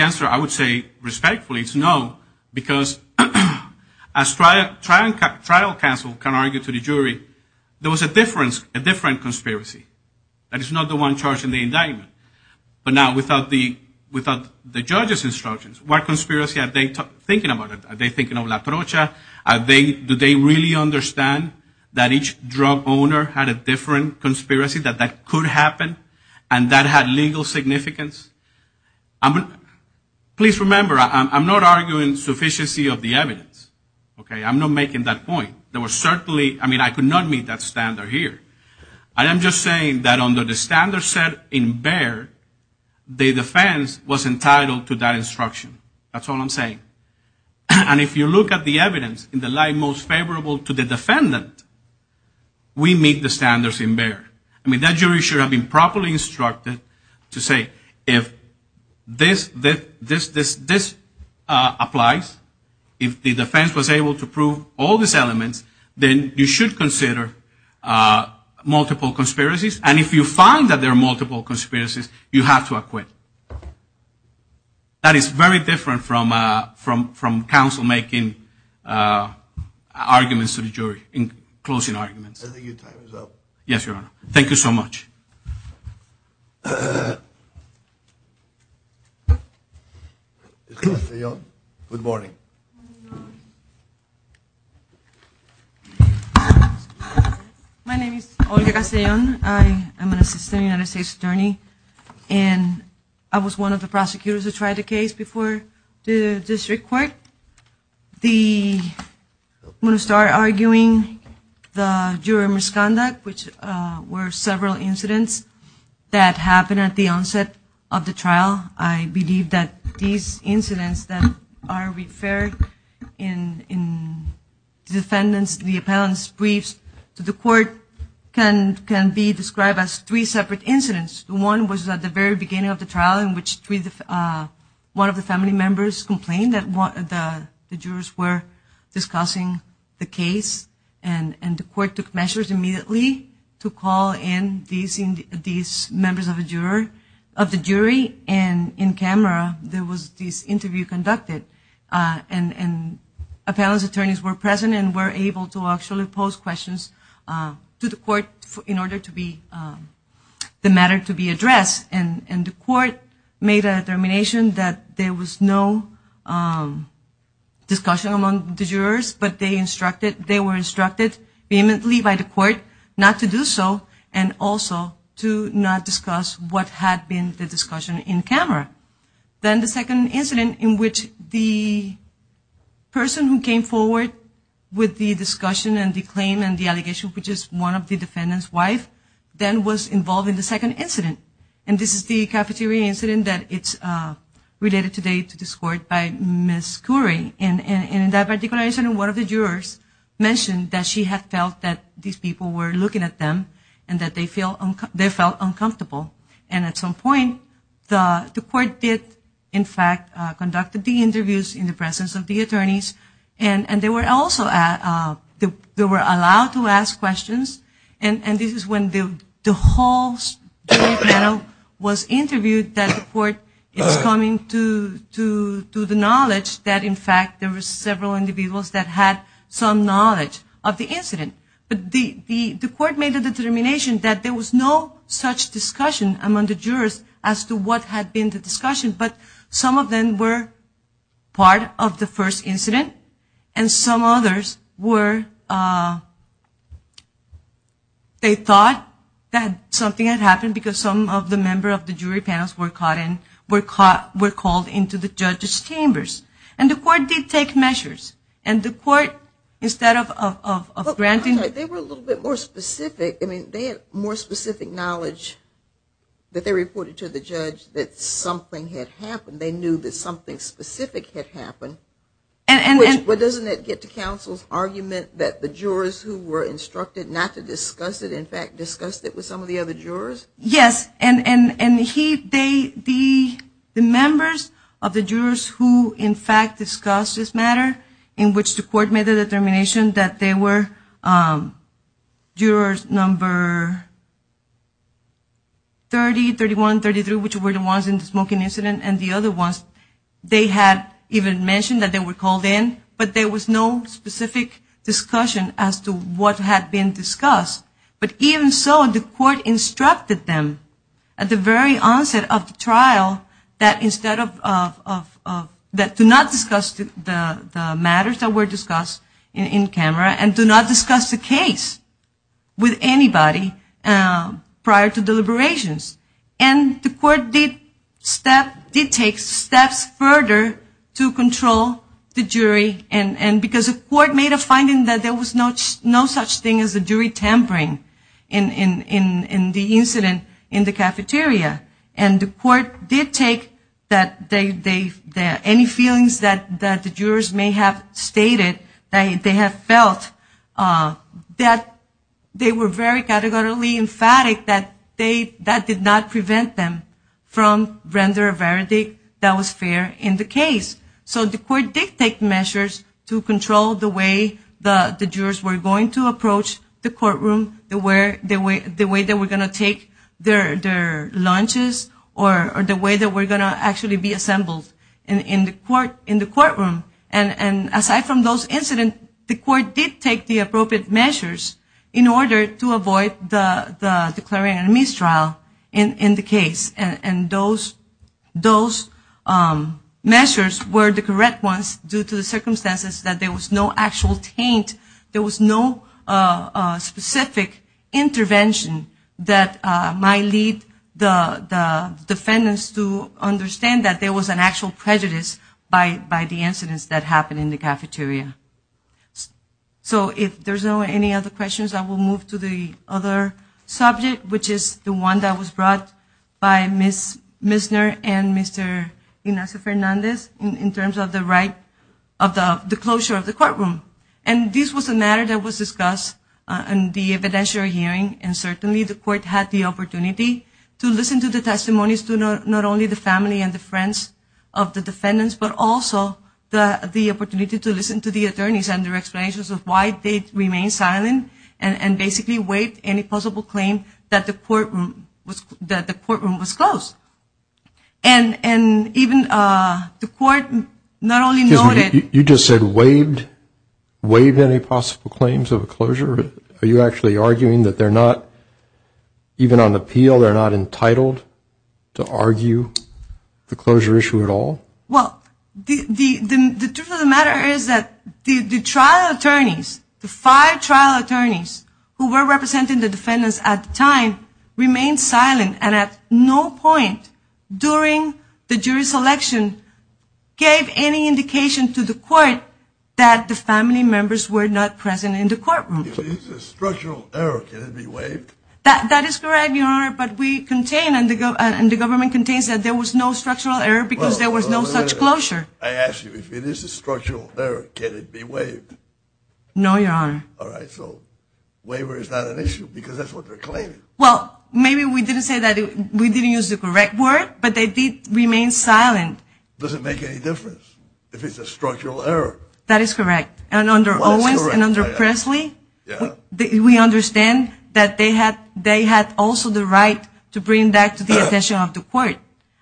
answer I would say respectfully is no, because as trial counsel can argue to the jury, there was a different conspiracy that is not the one charged in the indictment. But now without the judge's instructions, what conspiracy are they thinking about? Are they thinking of la brocha? Do they really understand that each drug owner had a different conspiracy, that that could happen, and that had legal significance? Please remember, I'm not arguing sufficiency of the evidence. Okay? I'm not making that point. There was certainly- I mean, I could not meet that standard here. I am just saying that under the standard set in Baird, the defense was entitled to that instruction. That's all I'm saying. And if you look at the evidence in the light most favorable to the defendant, we meet the standards in Baird. I mean, that jury should have been properly instructed to say, if this applies, if the defense was able to prove all these elements, then you should consider multiple conspiracies. And if you find that there are multiple conspiracies, you have to acquit. That is very different from counsel making arguments to the jury, in closing arguments. Yes, Your Honor. Thank you so much. Good morning. My name is Olga Castellon. I'm an assistant United States attorney. And I was one of the prosecutors who tried the case before the district court. I'm going to start arguing the juror misconduct, which were several incidents that happened at the onset of the trial. I believe that these incidents that are referred in the defendant's brief to the court can be described as three separate incidents. One was at the very beginning of the trial, in which one of the family members complained that the jurors were discussing the case. And the court took measures immediately to call in these members of the jury. And in camera, there was this interview conducted. And appellant's attorneys were present and were able to actually pose questions to the court in order for the matter to be addressed. And the court made a determination that there was no discussion among the jurors, but they were instructed vehemently by the court not to do so and also to not discuss what had been the discussion in camera. Then the second incident, in which the person who came forward with the discussion and the claim and the allegation, which is one of the defendant's wife, then was involved in the second incident. And this is the cafeteria incident that is related today to this court by Ms. Currie. And in that particular incident, one of the jurors mentioned that she had felt that these people were looking at them and that they felt uncomfortable. And at some point, the court did, in fact, conduct the interviews in the presence of the attorneys. And they were allowed to ask questions. And this is when the whole jury panel was interviewed, that the court is coming to the knowledge that, in fact, there were several individuals that had some knowledge of the incident. The court made the determination that there was no such discussion among the jurors as to what had been the discussion, but some of them were part of the first incident and some others were, they thought that something had happened because some of the members of the jury panels were called into the judges' chambers. And the court did take measures. And the court, instead of granting... They were a little bit more specific. They had more specific knowledge that they reported to the judge that something had happened. They knew that something specific had happened. But doesn't that get to counsel's argument that the jurors who were instructed not to discuss it, in fact, discussed it with some of the other jurors? And the members of the jurors who, in fact, discussed this matter, in which the court made a determination that there were jurors number 30, 31, 33, which were the ones in the smoking incident, and the other ones, they had even mentioned that they were called in, but there was no specific discussion as to what had been discussed. But even so, the court instructed them at the very onset of the trial that to not discuss the matters that were discussed in camera and do not discuss the case with anybody prior to deliberations. And the court did take steps further to control the jury because the court made a finding that there was no such thing as a jury tampering in the incident in the cafeteria. And the court did take that any feelings that the jurors may have stated, that they have felt, that they were very categorically emphatic that that did not prevent them from rendering a verdict that was fair in the case. So the court did take measures to control the way the jurors were going to approach the courtroom, the way they were going to take their lunches, or the way they were going to actually be assembled in the courtroom. And aside from those incidents, the court did take the appropriate measures in order to avoid the declaring a mistrial in the case. And those measures were the correct ones due to the circumstances that there was no actual taint, there was no specific intervention that might lead the defendants to understand that there was an actual prejudice by the incidents that happened in the cafeteria. So if there's not any other questions, I will move to the other subject, which is the one that was brought by Ms. Misner and Mr. Inez Fernandez in terms of the closure of the courtroom. And this was a matter that was discussed in the evidentiary hearing, and certainly the court had the opportunity to listen to the testimonies to not only the family and the friends of the defendants, but also the opportunity to listen to the attorneys and their explanations of why they remained silent and basically waived any possible claim that the courtroom was closed. And even the court not only noted... You just said waived any possible claims of a closure? Are you actually arguing that they're not, even on appeal, they're not entitled to argue the closure issue at all? Well, the truth of the matter is that the trial attorneys, the five trial attorneys who were representing the defendants at the time, remained silent and at no point during the jury selection gave any indication to the court that the family members were not present in the courtroom. If it's a structural error, can it be waived? That is correct, Your Honor, but we contain, and the government contains, that there was no structural error because there was no such closure. I ask you, if it is a structural error, can it be waived? No, Your Honor. All right, so waiver is not an issue because that's what they're claiming. Well, maybe we didn't say that. We didn't use the correct word, but they did remain silent. Does it make any difference if it's a structural error? That is correct, and under Owens and under Presley, we understand that they had also the right to bring that to the attention of the court,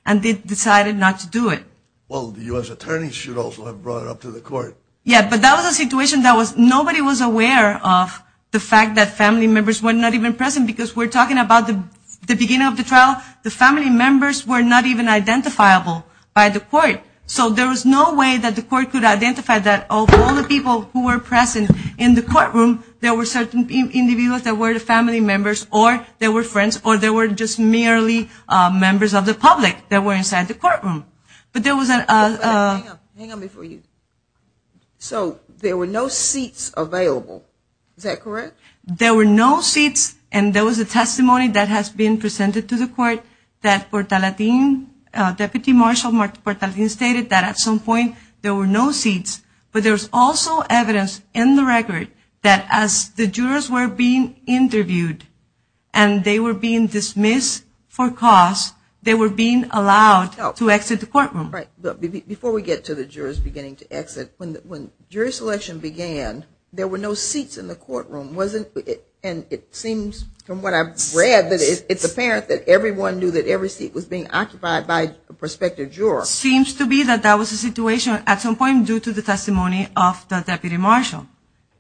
and they decided not to do it. Well, the U.S. attorneys should also have brought it up to the court. Yeah, but that was a situation that nobody was aware of, the fact that family members were not even present, because we're talking about the beginning of the trial. The family members were not even identifiable by the court, so there was no way that the court could identify that. Of all the people who were present in the courtroom, there were certain individuals that were family members or they were friends or they were just merely members of the public that were inside the courtroom. But there was a – There were no seats, and there was a testimony that has been presented to the court that Porta Latina, Deputy Marshal Porta Latina, stated that at some point there were no seats. But there's also evidence in the record that as the jurors were being interviewed and they were being dismissed for cause, they were being allowed to exit the courtroom. Right. Before we get to the jurors beginning to exit, when jury selection began, there were no seats in the courtroom, wasn't it? And it seems from what I've read that it's apparent that everyone knew that every seat was being occupied by a prospective juror. Seems to be that that was a situation at some point due to the testimony of the Deputy Marshal,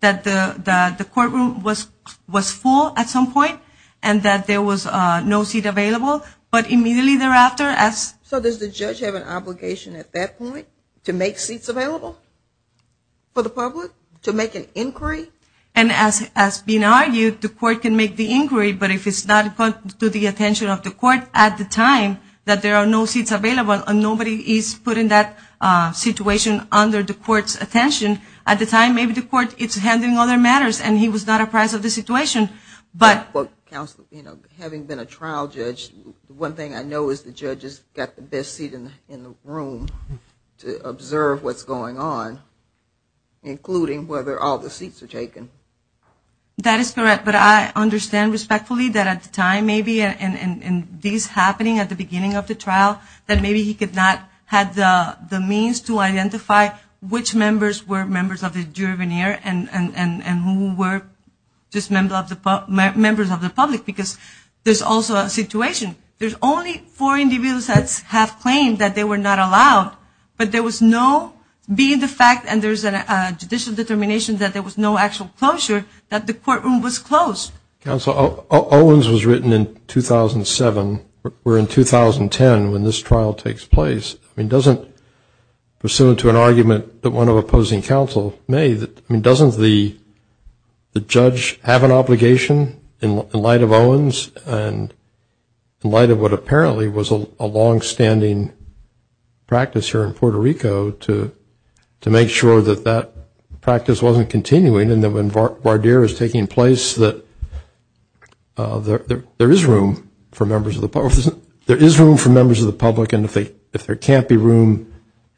that the courtroom was full at some point and that there was no seat available. But immediately thereafter, as – So does the judge have an obligation at that point to make seats available for the public, to make an inquiry? And as has been argued, the court can make the inquiry, but if it's not put to the attention of the court at the time that there are no seats available and nobody is put in that situation under the court's attention, at the time maybe the court is handling other matters and he was not a part of the situation. But, counsel, having been a trial judge, one thing I know is the judges got the best seat in the room to observe what's going on, including whether all the seats are taken. That is correct. But I understand respectfully that at the time maybe, and this happening at the beginning of the trial, that maybe he could not have the means to identify which members were members of his jury veneer and who were just members of the public because there's also a situation. There's only four individuals that have claims that they were not allowed, but there was no, being the fact, and there's a judicial determination, that there was no actual closure, that the courtroom was closed. Counsel, Owens was written in 2007. We're in 2010 when this trial takes place. I mean, doesn't, pursuant to an argument that one of opposing counsel made, and in light of what apparently was a longstanding practice here in Puerto Rico to make sure that that practice wasn't continuing, and that when Vardir is taking place that there is room for members of the public. There is room for members of the public, and if there can't be room,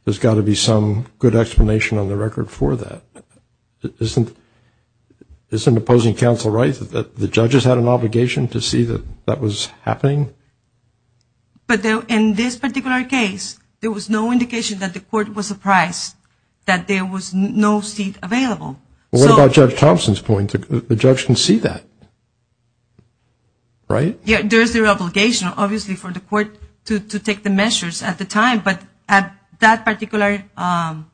there's got to be some good explanation on the record for that. Isn't opposing counsel right that the judges had an obligation to see that that was happening? But in this particular case, there was no indication that the court was surprised that there was no seat available. Well, what about Judge Thompson's point? The judge can see that, right? Yeah, there is their obligation, obviously, for the court to take the measures at the time, but at that particular time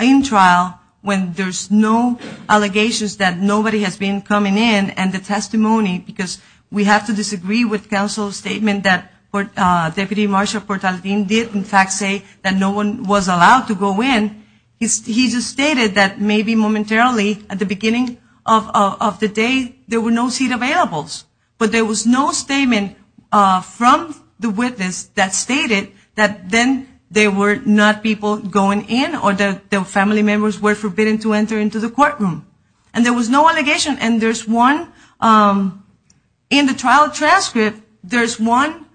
in trial, when there's no allegations that nobody has been coming in, and the testimony, because we have to disagree with counsel's statement that Deputy Marsha Portaldin did, in fact, say that no one was allowed to go in. He just stated that maybe momentarily, at the beginning of the day, there were no seat available, but there was no statement from the witness that stated that then there were not people going in or that their family members were forbidden to enter into the courtroom. And there was no allegation, and there's one in the trial transcript, there's one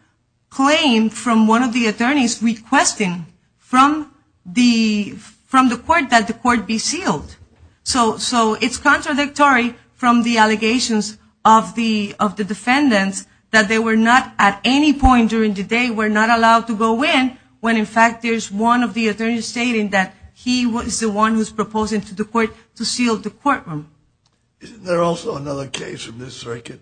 claim from one of the attorneys requesting from the court that the court be sealed. So it's contradictory from the allegations of the defendants that they were not at any point during the day were not allowed to go in when, in fact, there's one of the attorneys stating that he was the one who's proposing to seal the courtroom. Isn't there also another case from this circuit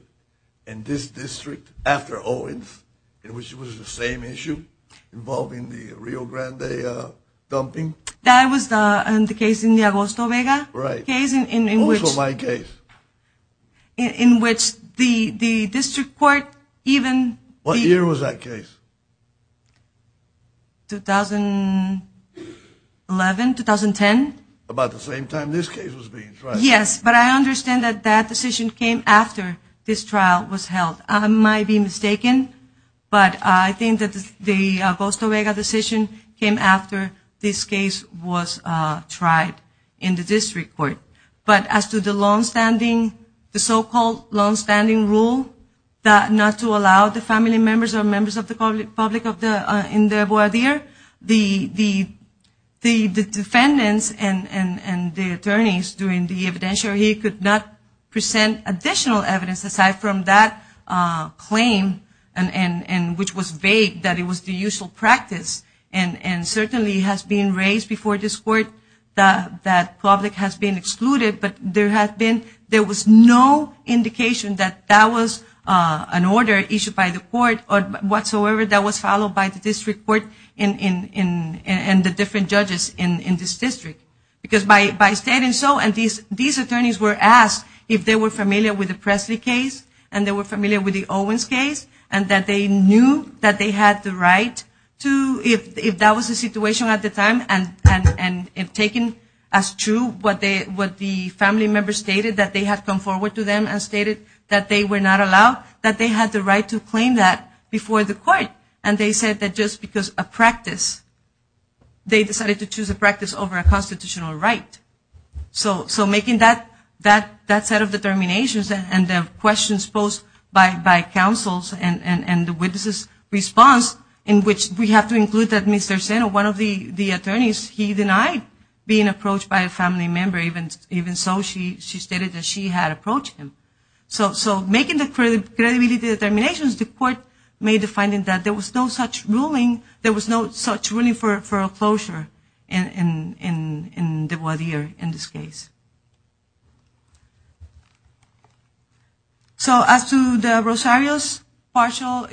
in this district after Owens, which was the same issue involving the Rio Grande dumping? That was the case in the Agosto Vega case in which the district court even... What year was that case? 2011, 2010. About the same time this case was being tried. Yes, but I understand that that decision came after this trial was held. I might be mistaken, but I think that the Agosto Vega decision came after this case was tried in the district court. But as to the so-called long-standing rule that not to allow the family members or members of the public in the voir dire, the defendants and the attorneys doing the evidentiary where he could not present additional evidence aside from that claim, which was vague that it was the usual practice and certainly has been raised before this court that public has been excluded, but there was no indication that that was an order issued by the court whatsoever that was followed by the district court and the different judges in this district. Because by saying so, and these attorneys were asked if they were familiar with the Presley case and they were familiar with the Owens case and that they knew that they had the right to, if that was the situation at the time, and if taken as true what the family members stated, that they had come forward to them and stated that they were not allowed, that they had the right to claim that before the court. And they said that just because a practice, they decided to choose a practice over a constitutional right. So making that set of determinations and the questions posed by counsels and the witnesses' response in which we have to include that Mr. Sena, one of the attorneys, he denied being approached by a family member, even so she stated that she had approached him. So making the credibility determinations, the court made the finding that there was no such ruling for a closure in the Guardia in this case. So as to the Rosario's partial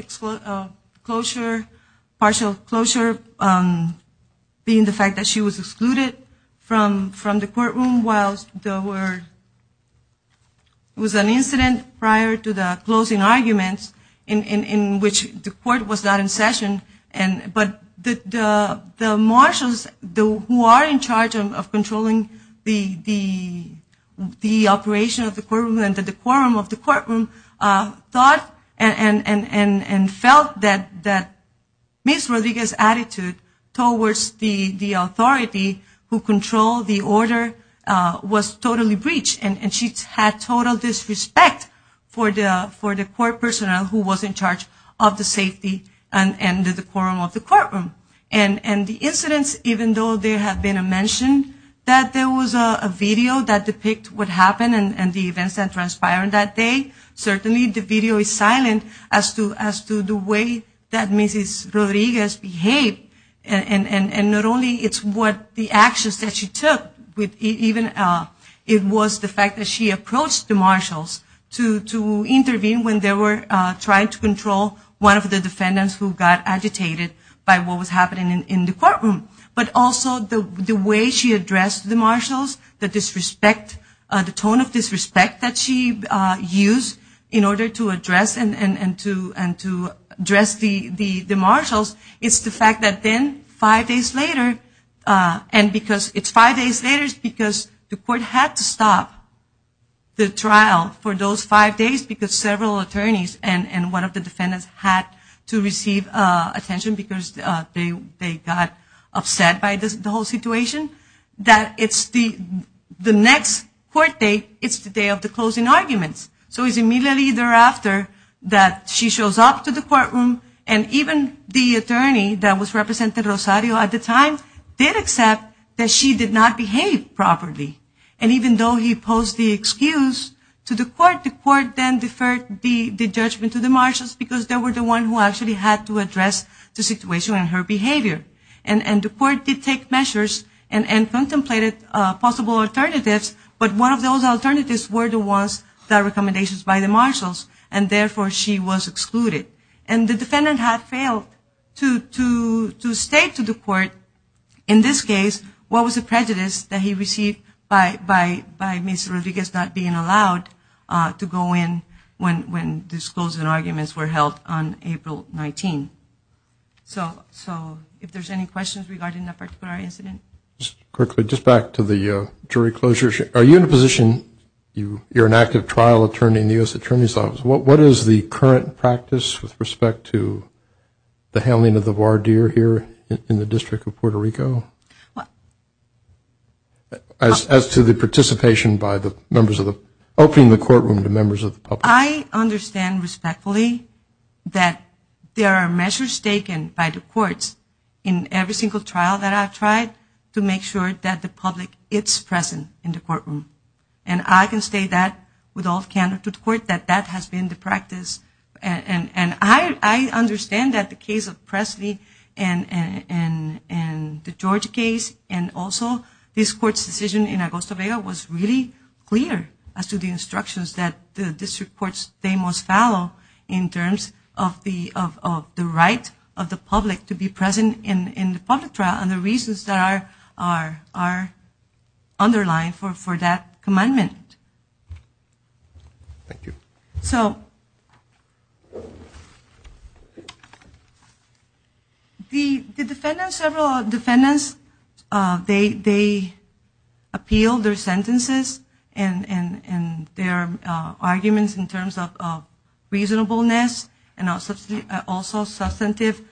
closure, partial closure being the fact that she was excluded from the courtroom while there was an incident prior to the closing arguments in which the court was not in session, but the marshals who are in charge of controlling the operation of the courtroom and the decorum of the courtroom thought and felt that Ms. Rodriguez's attitude towards the authority who controlled the order was totally breached and she had total disrespect for the court personnel who was in charge of the safety and the decorum of the courtroom. And the incidents, even though there had been a mention that there was a video that depicts what happened and the events that transpired that day, certainly the video is silent as to the way that Ms. Rodriguez behaved. And not only the actions that she took, it was the fact that she approached the marshals to intervene when they were trying to control one of the defendants who got agitated by what was happening in the courtroom. But also the way she addressed the marshals, the tone of disrespect that she used in order to address the marshals, it's the fact that then five days later, and it's five days later because the court had to stop the trial for those five days because several attorneys and one of the defendants had to receive attention because they got upset by the whole situation, that it's the next court date, it's the day of the closing arguments. So it's immediately thereafter that she shows up to the courtroom and even the attorney that was representing Rosario at the time did accept that she did not behave properly. And even though he posed the excuse to the court, the court then deferred the judgment to the marshals because they were the ones who actually had to address the situation and her behavior. And the court did take measures and contemplated possible alternatives, but one of those alternatives were the ones that were recommendations by the marshals and therefore she was excluded. And the defendant had failed to state to the court, in this case, what was the prejudice that he received by Ms. Rodriguez not being allowed to go in when the closing arguments were held on April 19th. So if there's any questions regarding that particular incident? Just quickly, just back to the jury closures, are you in a position, you're an active trial attorney in the U.S. Attorney's Office, what is the current practice with respect to the handling of the voir dire here in the District of Puerto Rico as to the participation by the members of the, opening the courtroom to members of the public? I understand respectfully that there are measures taken by the courts in every single trial that I've tried to make sure that the public is present in the courtroom. And I can say that with all candor to the court, that that has been the practice. And I understand that the case of Presley and the George case and also this court's decision in Arbol Saavedra was really clear as to the instructions that the district courts they must follow in terms of the right of the public to be present in the public trial and the reasons that are underlined for that commandment. Thank you. So the defendants, several defendants, they appeal their sentences and their arguments in terms of reasonableness and also substantive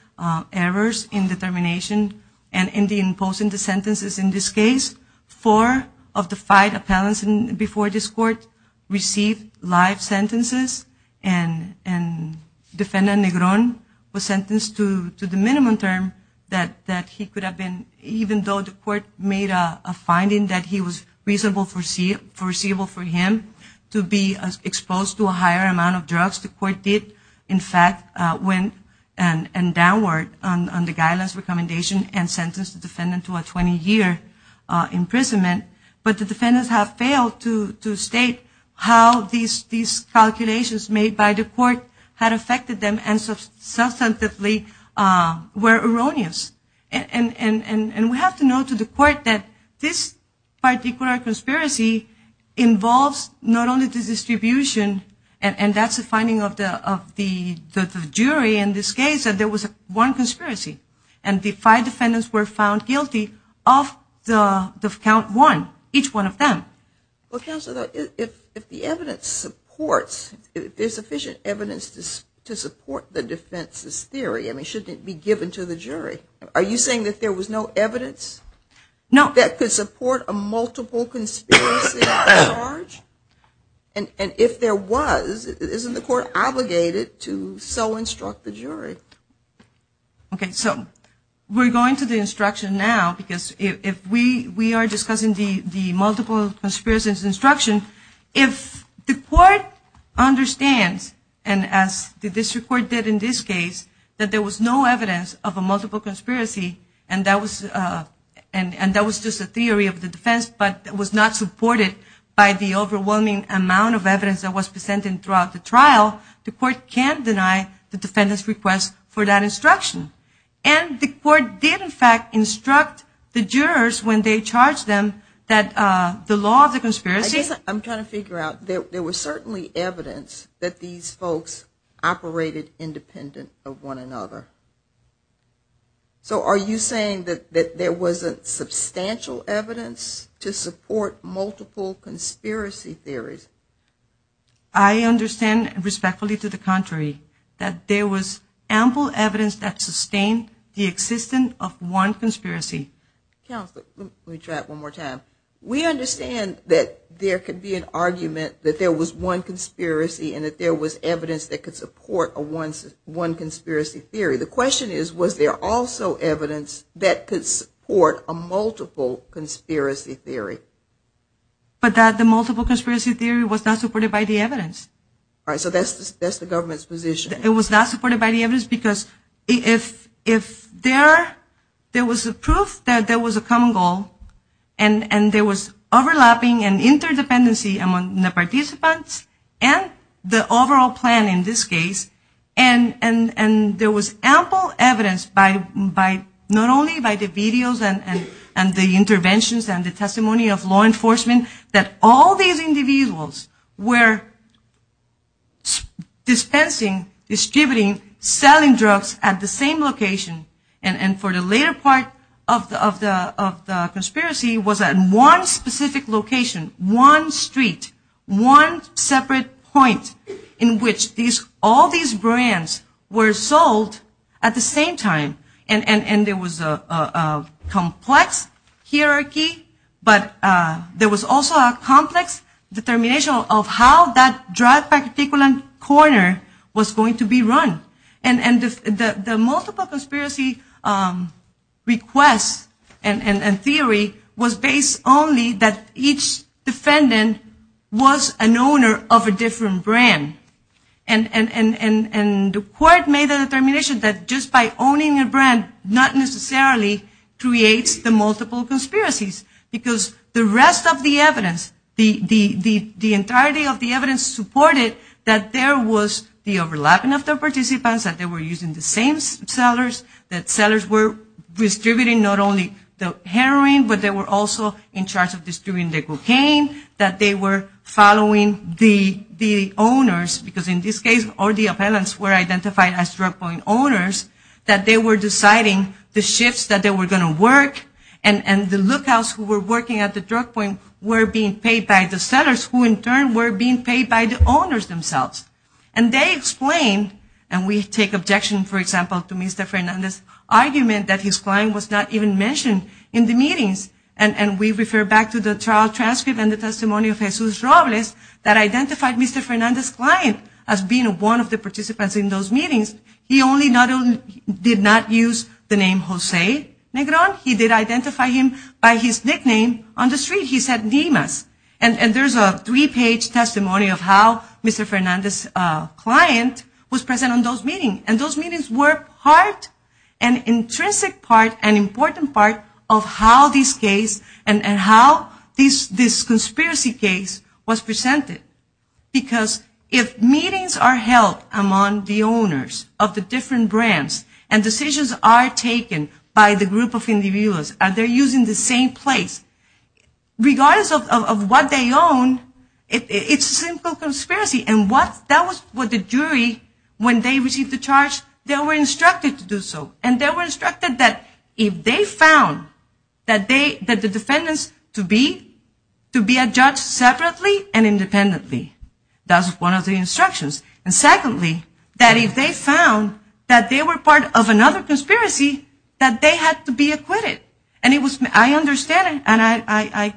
errors in determination and in imposing the sentences in this case. Four of the five appellants before this court received live sentences and defendant Negron was sentenced to the minimum term that he could have been, even though the court made a finding that he was reasonable foreseeable for him to be exposed to a higher amount of drugs. The court did, in fact, went and downward on the guidelines recommendation and sentenced the defendant to a 20-year imprisonment. But the defendants have failed to state how these calculations made by the court had affected them and substantively were erroneous. And we have to note to the court that this particular conspiracy involves not only the distribution and that's the finding of the jury in this case that there was one conspiracy and the five defendants were found guilty of the count one, each one of them. Well, Counselor, if the evidence supports, there's sufficient evidence to support the defense's theory, it shouldn't be given to the jury. Are you saying that there was no evidence that could support a multiple conspiracy at large? And if there was, isn't the court obligated to so instruct the jury? Okay, so we're going to the instruction now because if we are discussing the multiple conspiracy instructions, if the court understands, and as the district court did in this case, that there was no evidence of a multiple conspiracy and that was just a theory of the defense but was not supported by the overwhelming amount of evidence that was presented throughout the trial, the court can deny the defendant's request for that instruction. And the court did, in fact, instruct the jurors when they charged them that the law of the conspiracy I'm trying to figure out, there was certainly evidence that these folks operated independent of one another. So are you saying that there wasn't substantial evidence to support multiple conspiracy theories? I understand respectfully to the contrary that there was ample evidence that sustained the existence of one conspiracy. Counselor, let me try it one more time. We understand that there could be an argument that there was one conspiracy and that there was evidence that could support a one conspiracy theory. The question is, was there also evidence that could support a multiple conspiracy theory? But that the multiple conspiracy theory was not supported by the evidence. All right, so that's the government's position. It was not supported by the evidence because if there was the proof that there was a common goal and there was overlapping and interdependency among the participants and the overall plan in this case, and there was ample evidence not only by the videos and the interventions and the testimony of law enforcement that all these individuals were dispensing, distributing, selling drugs at the same location and for the later part of the conspiracy was at one specific location, one street, one separate point in which all these brands were sold at the same time and there was a complex hierarchy but there was also a complex determination of how that drug particulate corner was going to be run. And the multiple conspiracy request and theory was based only that each defendant was an owner of a different brand. And the court made a determination that just by owning a brand not necessarily creates the multiple conspiracies because the rest of the evidence, the entirety of the evidence supported that there was the overlapping of the participants, that they were using the same sellers, that sellers were distributing not only the heroin but they were also in charge of distributing the cocaine, that they were following the owners because in this case all the appellants were identified as drug point owners, that they were deciding the shifts that they were going to work and the lookouts who were working at the drug point were being paid by the sellers who in turn were being paid by the owners themselves. And they explained, and we take objection for example to Mr. Fernandez's argument that his client was not even mentioned in the meetings and we refer back to the trial transcript and the testimony of Jesus Robles that identified Mr. Fernandez's client as being one of the participants in those meetings. He only did not use the name Jose Negron. He did identify him by his nickname on the street. He said Nimas. And there's a three-page testimony of how Mr. Fernandez's client was present in those meetings. And those meetings were part, an intrinsic part, an important part of how this case and how this conspiracy case was presented because if meetings are held among the owners of the different brands and decisions are taken by the group of individuals and they're using the same place, regardless of what they own, it's a simple conspiracy. And that was what the jury, when they received the charge, they were instructed to do so. And they were instructed that if they found that the defendants to be a judge separately and independently, that was one of the instructions. And secondly, that if they found that they were part of another conspiracy, that they had to be acquitted. And it was, I understand and I,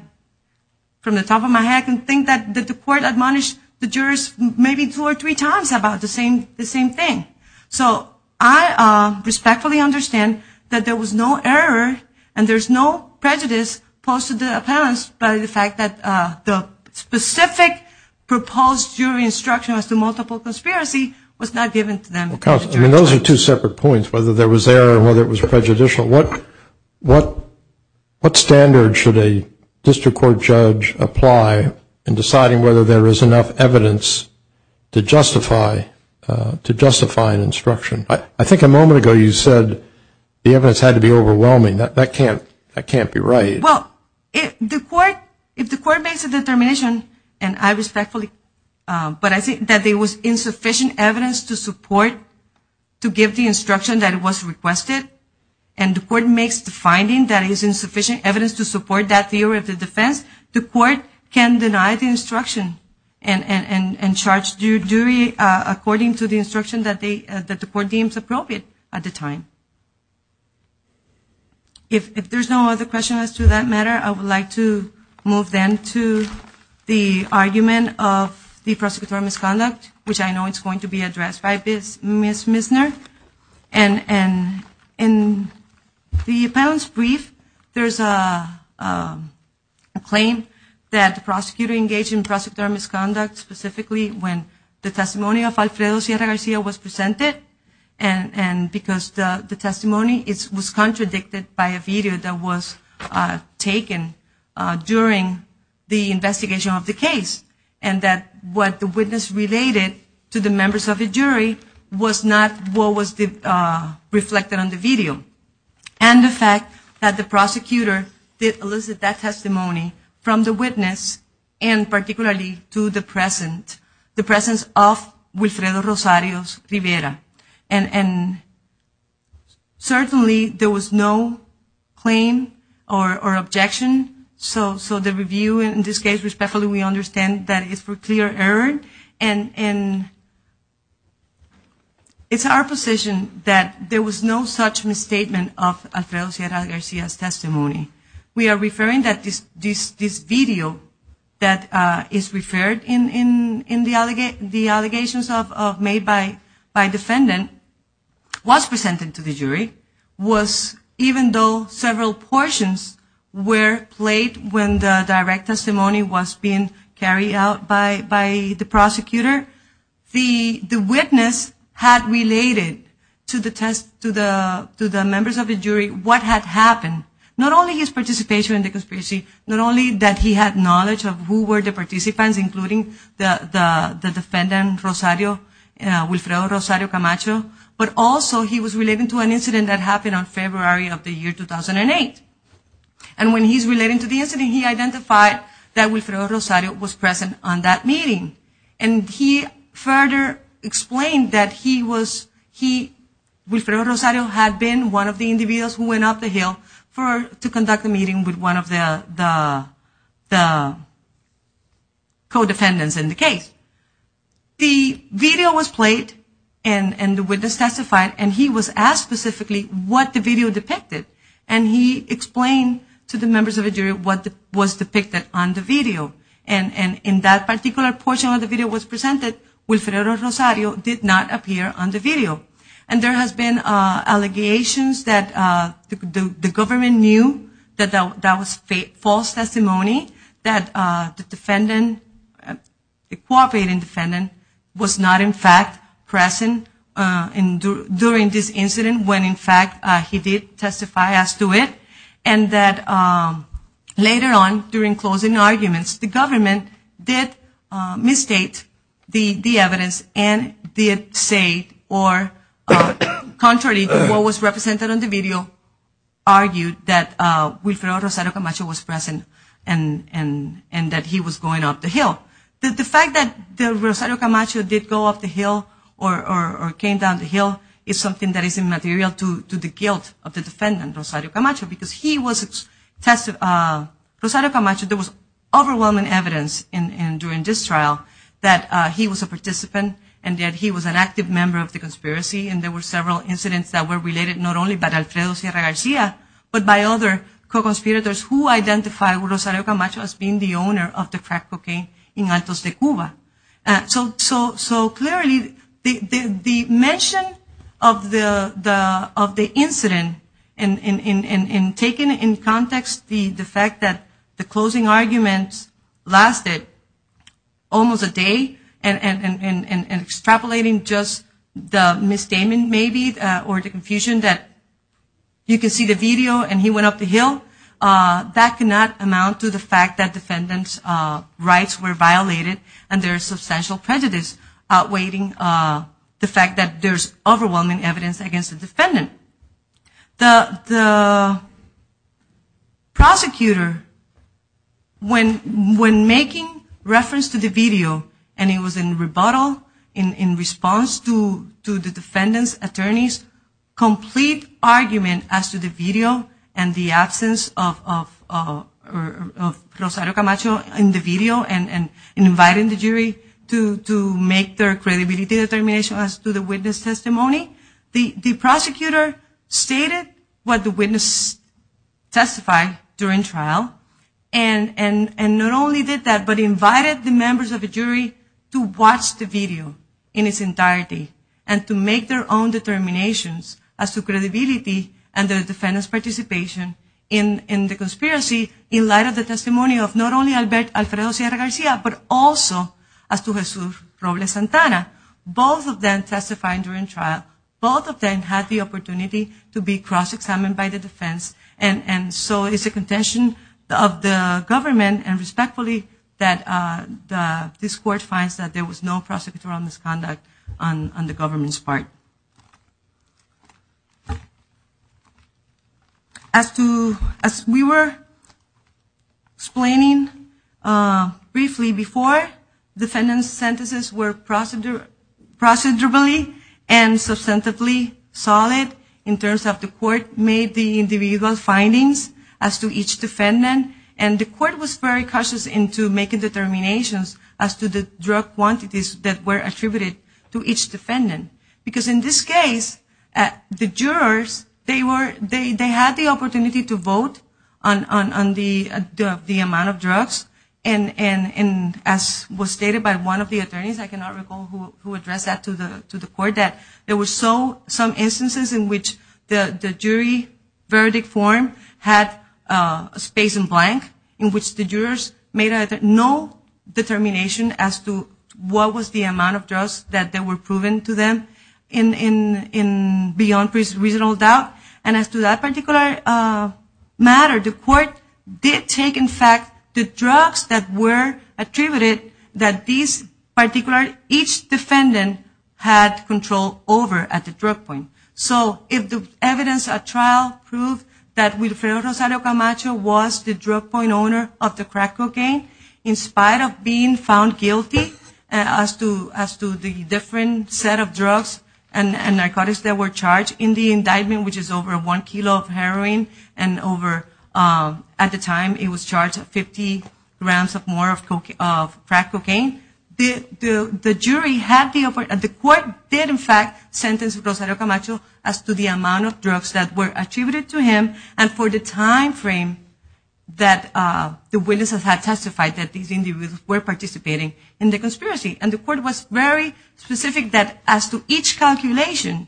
from the top of my head, can think that the court admonished the jurors maybe two or three times about the same thing. So I respectfully understand that there was no error and there's no prejudice posted to the defendants by the fact that the specific proposed jury instruction as to multiple conspiracy was not given to them. Those are two separate points, whether there was error or whether it was prejudicial. What standard should a district court judge apply in deciding whether there is enough evidence to justify an instruction? I think a moment ago you said the evidence had to be overwhelming. That can't be right. Well, if the court makes a determination, and I respectfully, but I think that there was insufficient evidence to support, to give the instruction that was requested, and the court makes the finding that there is insufficient evidence to support that theory of the defense, the court can deny the instruction and charge due duly according to the instruction that the court deems appropriate at the time. If there's no other questions as to that matter, I would like to move then to the argument of the prosecutorial misconduct, which I know is going to be addressed by Ms. Misner. In the panel's brief, there's a claim that the prosecutor engaged in prosecutorial misconduct specifically when the testimony of Alfredo Sierra Garcia was presented, and because the testimony was contradicted by a video that was taken during the investigation of the case, and that what the witness related to the members of the jury was not what was reflected on the video, and the fact that the prosecutor did elicit that testimony from the witness, and particularly to the presence of Guisrelo Rosarios Rivera. And certainly there was no claim or objection, so the review in this case respectfully we understand that it's for clear error, and it's our position that there was no such misstatement of Alfredo Sierra Garcia's testimony. We are referring that this video that is referred in the allegations made by defendant was presented to the jury, was even though several portions were played when the direct testimony was being carried out by the prosecutor, the witness had related to the members of the jury what had happened. Not only his participation in the conspiracy, not only that he had knowledge of who were the participants, including the defendant Guisrelo Rosarios Camacho, but also he was related to an incident that happened on February of the year 2008. And when he's relating to the incident, he identified that Guisrelo Rosarios was present on that meeting, and he further explained that Guisrelo Rosarios had been one of the individuals who went up the hill to conduct a meeting with one of the co-defendants in the case. The video was played, and the witness testified, and he was asked specifically what the video depicted, and he explained to the members of the jury what was depicted on the video. And in that particular portion where the video was presented, Guisrelo Rosarios did not appear on the video. And there has been allegations that the government knew that that was false testimony, that the co-operating defendant was not in fact present during this incident, when in fact he did testify as to it, and that later on during closing arguments, the government did misstate the evidence and did say, or contrary to what was represented in the video, argued that Guisrelo Rosarios Camacho was present and that he was going up the hill. The fact that Guisrelo Rosarios Camacho did go up the hill or came down the hill is something that is immaterial to the guilt of the defendant, Guisrelo Rosarios Camacho, because there was overwhelming evidence during this trial that he was a participant and that he was an active member of the conspiracy, and there were several incidents that were related not only by Alfredo Sierra Garcia, but by other co-conspirators who identified Guisrelo Rosarios Camacho as being the owner of the crack cocaine in Altos de Cuba. So clearly the mention of the incident and taking into context the fact that the closing argument lasted almost a day and extrapolating just the misstatement maybe or the confusion that you can see the video and he went up the hill, that cannot amount to the fact that defendant's rights were violated and there's substantial prejudice outweighing the fact that there's overwhelming evidence against the defendant. The prosecutor, when making reference to the video and it was in rebuttal in response to the defendant's attorneys, complete argument as to the video and the absence of Rosarios Camacho in the video and inviting the jury to make their credibility determination as to the witness testimony. The prosecutor stated what the witness testified during trial and not only did that, but invited the members of the jury to watch the video in its entirety and to make their own determinations as to credibility and their defendant's participation in the conspiracy in light of the testimony of not only Alfredo Sierra Garcia, but also as to Jesus Robles Santana. Both of them testified during trial. Both of them had the opportunity to be cross-examined by the defense and so it's a contention of the government and respectfully that this court finds that there was no prosecutorial misconduct on the government's part. As we were explaining briefly before, defendant's sentences were procedurally and substantively solid in terms of the court made the individual findings as to each defendant and the court was very cautious in making determinations as to the drug quantities that were attributed to each defendant. Because in this case, the jurors, they had the opportunity to vote on the amount of drugs and as was stated by one of the attorneys, I cannot recall who addressed that to the court, that there were some instances in which the jury verdict form had a space in blank in which the jurors made no determination as to what was the amount of drugs that were proven to them beyond reasonable doubt. And as to that particular matter, the court did take, in fact, the drugs that were attributed that each defendant had control over at the drug point. So if the evidence at trial proved that Wilfredo Rosario Camacho was the drug point owner of the crack cocaine, in spite of being found guilty as to the different set of drugs and narcotics that were charged in the indictment, which is over one kilo of heroin and over, at the time, it was charged at 50 grams or more of crack cocaine, the court did, in fact, sentence Rosario Camacho as to the amount of drugs that were attributed to him and for the time frame that the witnesses had testified that these individuals were participating in the conspiracy. And the court was very specific that as to each calculation,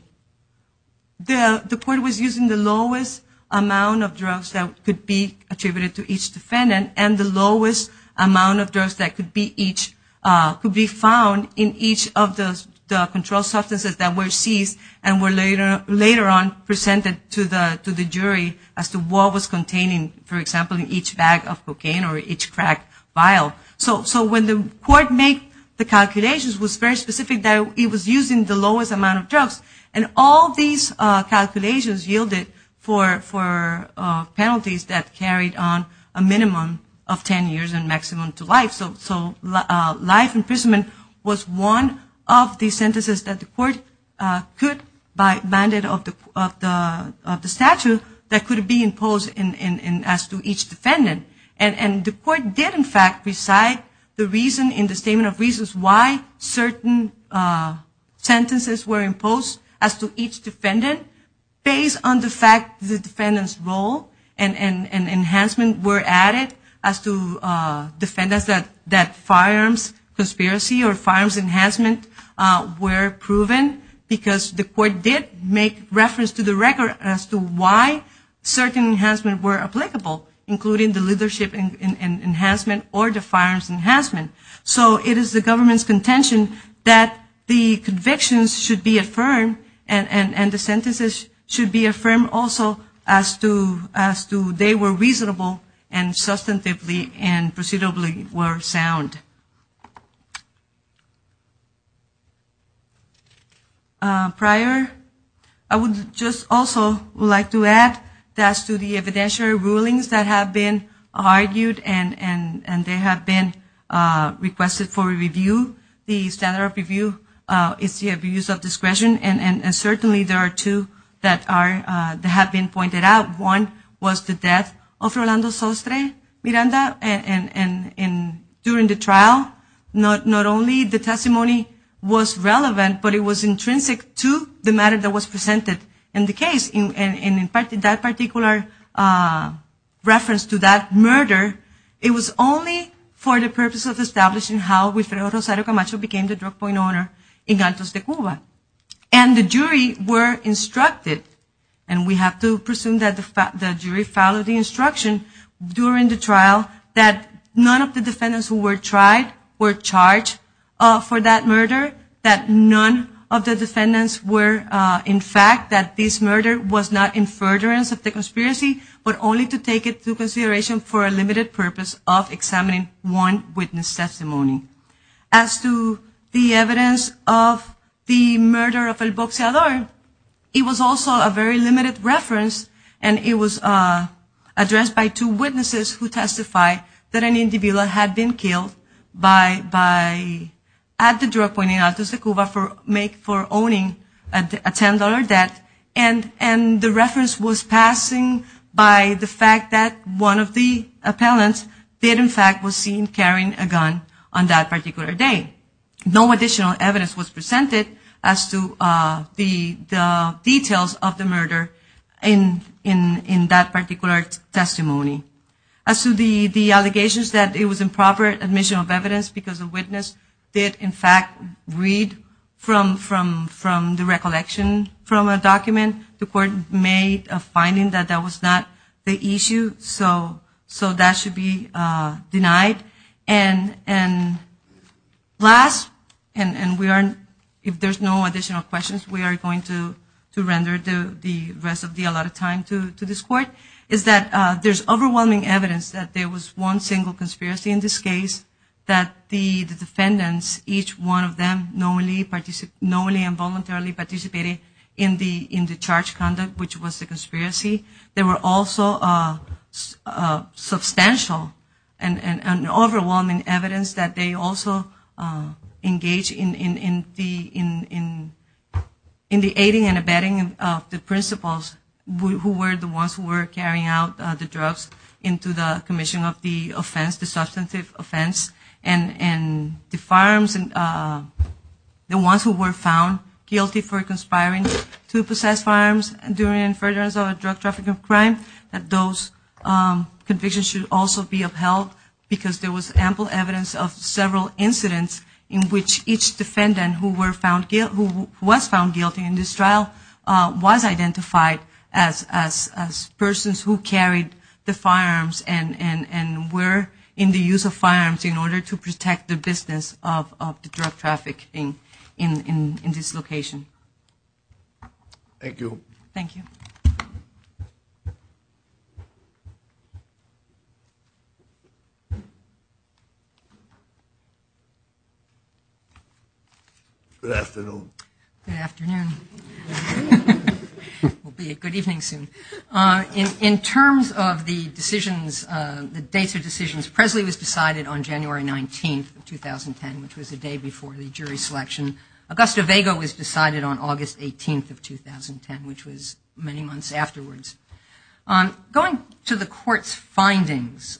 the court was using the lowest amount of drugs that could be attributed to each defendant and the lowest amount of drugs that could be found in each of the control substances that were seized and were later on presented to the jury as to what was contained, for example, in each bag of cocaine or each crack vial. So when the court made the calculations, it was very specific that it was using the lowest amount of drugs and all these calculations yielded for penalties that carried on a minimum of 10 years and maximum to life. So life imprisonment was one of the sentences that the court could, by mandate of the statute, that could be imposed as to each defendant. And the court did, in fact, decide the reason in the Statement of Reasons why certain sentences were imposed as to each defendant based on the fact that the defendant's role and enhancement were added as to defendants that firearms conspiracy or firearms enhancement were proven because the court did make reference to the record as to why certain enhancements were applicable, including the leadership enhancement or the firearms enhancement. So it is the government's contention that the convictions should be affirmed and the sentences should be affirmed also as to they were reasonable and substantively and procedurally were sound. Thank you. Prior, I would just also like to add that to the evidentiary rulings that have been argued and they have been requested for review, the standard of review, if you have the use of discretion. And certainly there are two that have been pointed out. One was the death of Rolando Sostre Miranda. And during the trial, not only the testimony was relevant, but it was intrinsic to the matter that was presented in the case. And in fact, that particular reference to that murder, it was only for the purpose of establishing how Guistero Rosario Camacho became the drug point owner in Galtos de Cuba. And the jury were instructed, and we have to presume that the jury followed the instruction during the trial, that none of the defendants who were tried were charged for that murder, that none of the defendants were, in fact, that this murder was not in furtherance of the conspiracy, but only to take it to consideration for a limited purpose of examining one witness testimony. As to the evidence of the murder of El Boxeador, it was also a very limited reference and it was addressed by two witnesses who testified that an individual had been killed at the drug point in Galtos de Cuba for owning a $10 debt. And the reference was passing by the fact that one of the appellants did, in fact, say that El Boxeador was seen carrying a gun on that particular day. No additional evidence was presented as to the details of the murder in that particular testimony. As to the allegations that it was improper admission of evidence because the witness did, in fact, read from the recollection from a document, the court made a finding that that was not the issue, so that should be denied. And last, and if there's no additional questions, we are going to render the rest of the allotted time to this court, is that there's overwhelming evidence that there was one single conspiracy in this case, that the defendants, each one of them knowingly and voluntarily participated in the charged conduct, which was the conspiracy, there were also substantial and overwhelming evidence that they also engaged in the aiding and abetting of the principals who were the ones who were carrying out the drugs into the commission of the offense, the substantive offense. And the firearms, the ones who were found guilty for conspiring to possess firearms during furtherance of a drug trafficking crime, that those convictions should also be upheld because there was ample evidence of several incidents in which each defendant who was found guilty in this trial was identified as persons who carried the firearms and were in the use of firearms in order to protect the business of the drug trafficking in this location. Thank you. Thank you. Good afternoon. Good afternoon. It will be a good evening soon. In terms of the decisions, the dates of decisions, Presley was decided on January 19th of 2010, which was the day before the jury selection. Augusto Vega was decided on August 18th of 2010, which was many months afterwards. Going to the court's findings,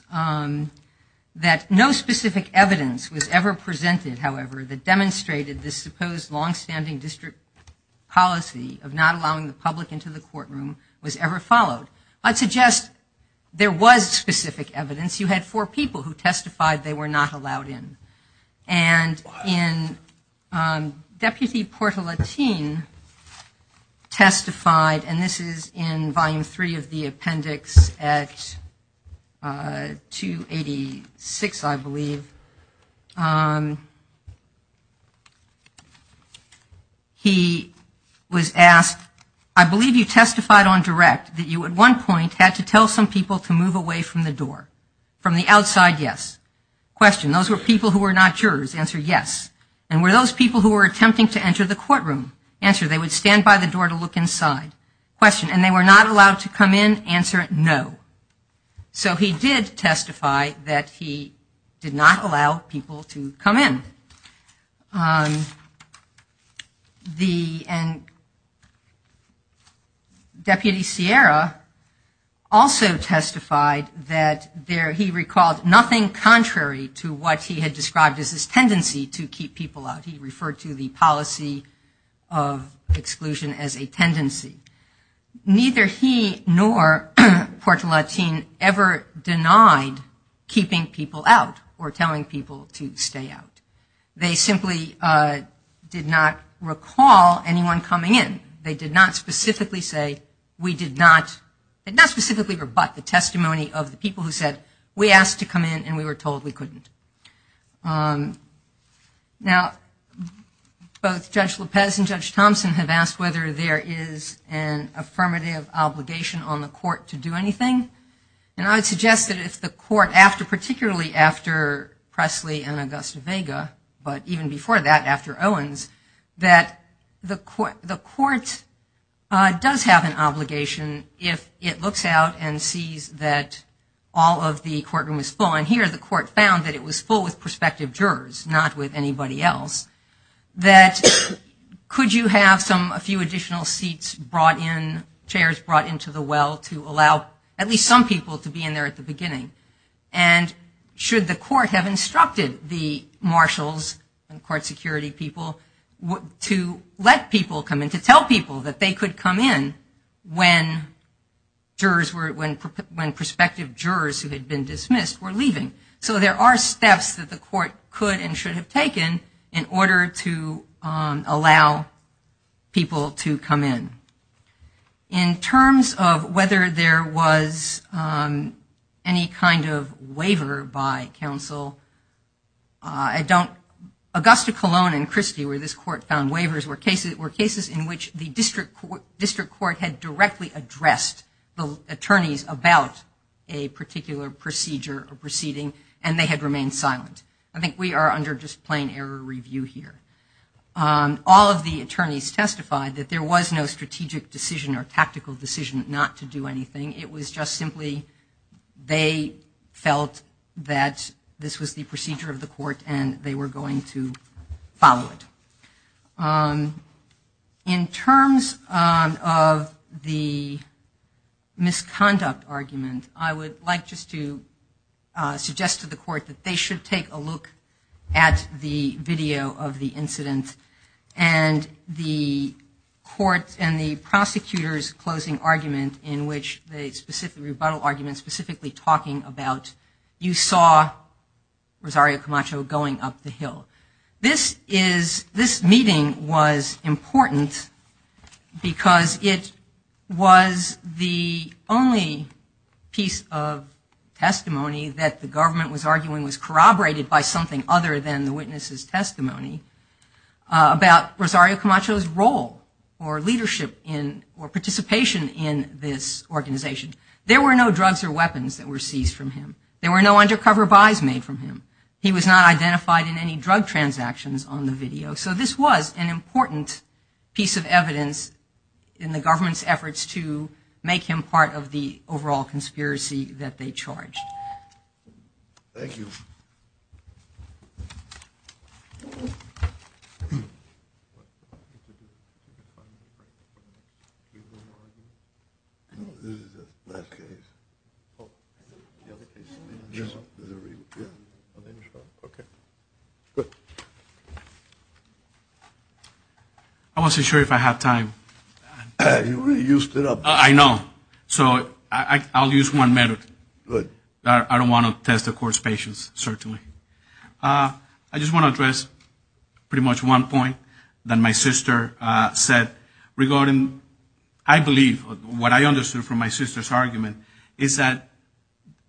that no specific evidence was ever presented, however, that demonstrated this supposed long-standing district policy of not allowing the public into the courtroom was ever followed. I'd suggest there was specific evidence. You had four people who testified they were not allowed in. And in Deputy Portolatine testified, and this is in Volume 3 of the appendix at 286, I believe. He was asked, I believe you testified on direct that you, at one point, had to tell some people to move away from the door. From the outside, yes. Question, those were people who were not jurors. Answer, yes. And were those people who were attempting to enter the courtroom? Answer, they would stand by the door to look inside. Question, and they were not allowed to come in? Answer, no. So he did testify that he did not allow people to come in. And Deputy Sierra also testified that he recalled nothing contrary to what he had described as his tendency to keep people out. He referred to the policy of exclusion as a tendency. Neither he nor Portolatine ever denied keeping people out or telling people to stay out. They simply did not recall anyone coming in. They did not specifically say, we did not, and not specifically but, the testimony of the people who said, we asked to come in and we were told we couldn't. Now, both Judge Lopez and Judge Thompson have asked whether there is an affirmative obligation on the court to do anything. And I would suggest that if the court, particularly after Presley and Augusta Vega, but even before that, after Owens, that the court does have an obligation if it looks out and sees that all of the courtroom is full. And the court found that it was full with prospective jurors, not with anybody else, that could you have a few additional seats brought in, chairs brought into the well to allow at least some people to be in there at the beginning. And should the court have instructed the marshals, the court security people, to let people come in, to tell people that they could come in when prospective jurors who had been dismissed were leaving. So there are steps that the court could and should have taken in order to allow people to come in. In terms of whether there was any kind of waiver by counsel, I don't, Augusta Colon and Christie, where this court found waivers, were cases in which the district court had directly addressed the attorneys about a particular procedure or proceeding, and they had remained silent. I think we are under just plain error review here. All of the attorneys testified that there was no strategic decision or tactical decision not to do anything. It was just simply they felt that this was the procedure of the court and they were going to follow it. In terms of the misconduct argument, I would like just to suggest to the court that they should take a look at the video of the incident and the court and the prosecutor's closing argument in which the specific rebuttal argument specifically talking about you saw Rosario Camacho going up the hill. This meeting was important because it was the only piece of testimony that the government was arguing was corroborated by something other than the witness's testimony about Rosario Camacho's role or leadership or participation in this organization. There were no drugs or weapons that were seized from him. There were no undercover buys made from him. He was not identified in any drug transactions on the video. So this was an important piece of evidence in the government's efforts to make him part of the overall conspiracy that they charged. Thank you. Okay, good. I wasn't sure if I had time. You already used it up. I know. So I'll use one metaphor. I don't want to test the court's patience, certainly. I just want to address pretty much one point that my sister said regarding, I believe, what I understood from my sister's argument is that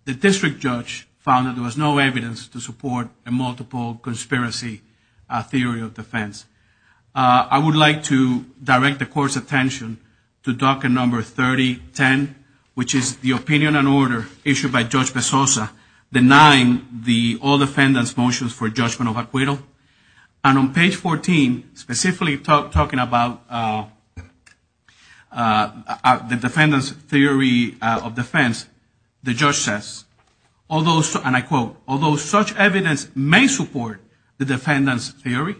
the district judge found that there was no evidence to support a multiple conspiracy theory of defense. I would like to direct the court's attention to docket number 3010, which is the opinion and order issued by Judge Bezosa denying all defendants' motions for judgment of acquittal. And on page 14, specifically talking about the defendant's theory of defense, the judge says, and I quote, although such evidence may support the defendant's theory,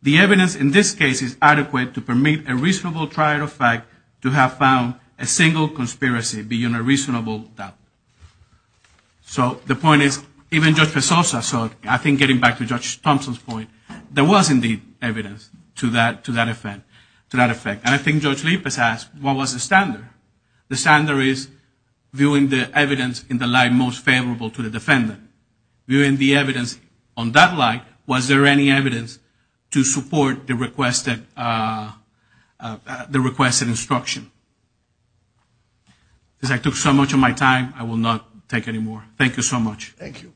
the evidence in this case is adequate to permit a reasonable trial of fact to have found a single conspiracy being a reasonable doubt. So the point is, even Judge Bezosa said, I think getting back to Judge Thompson's point, there was indeed evidence to that effect. And I think Judge Rivas asked, what was the standard? The standard is viewing the evidence in the light most favorable to the defendant. Viewing the evidence on that light, was there any evidence to support the requested instruction? Because I took so much of my time, I will not take any more. Thank you so much. Thank you.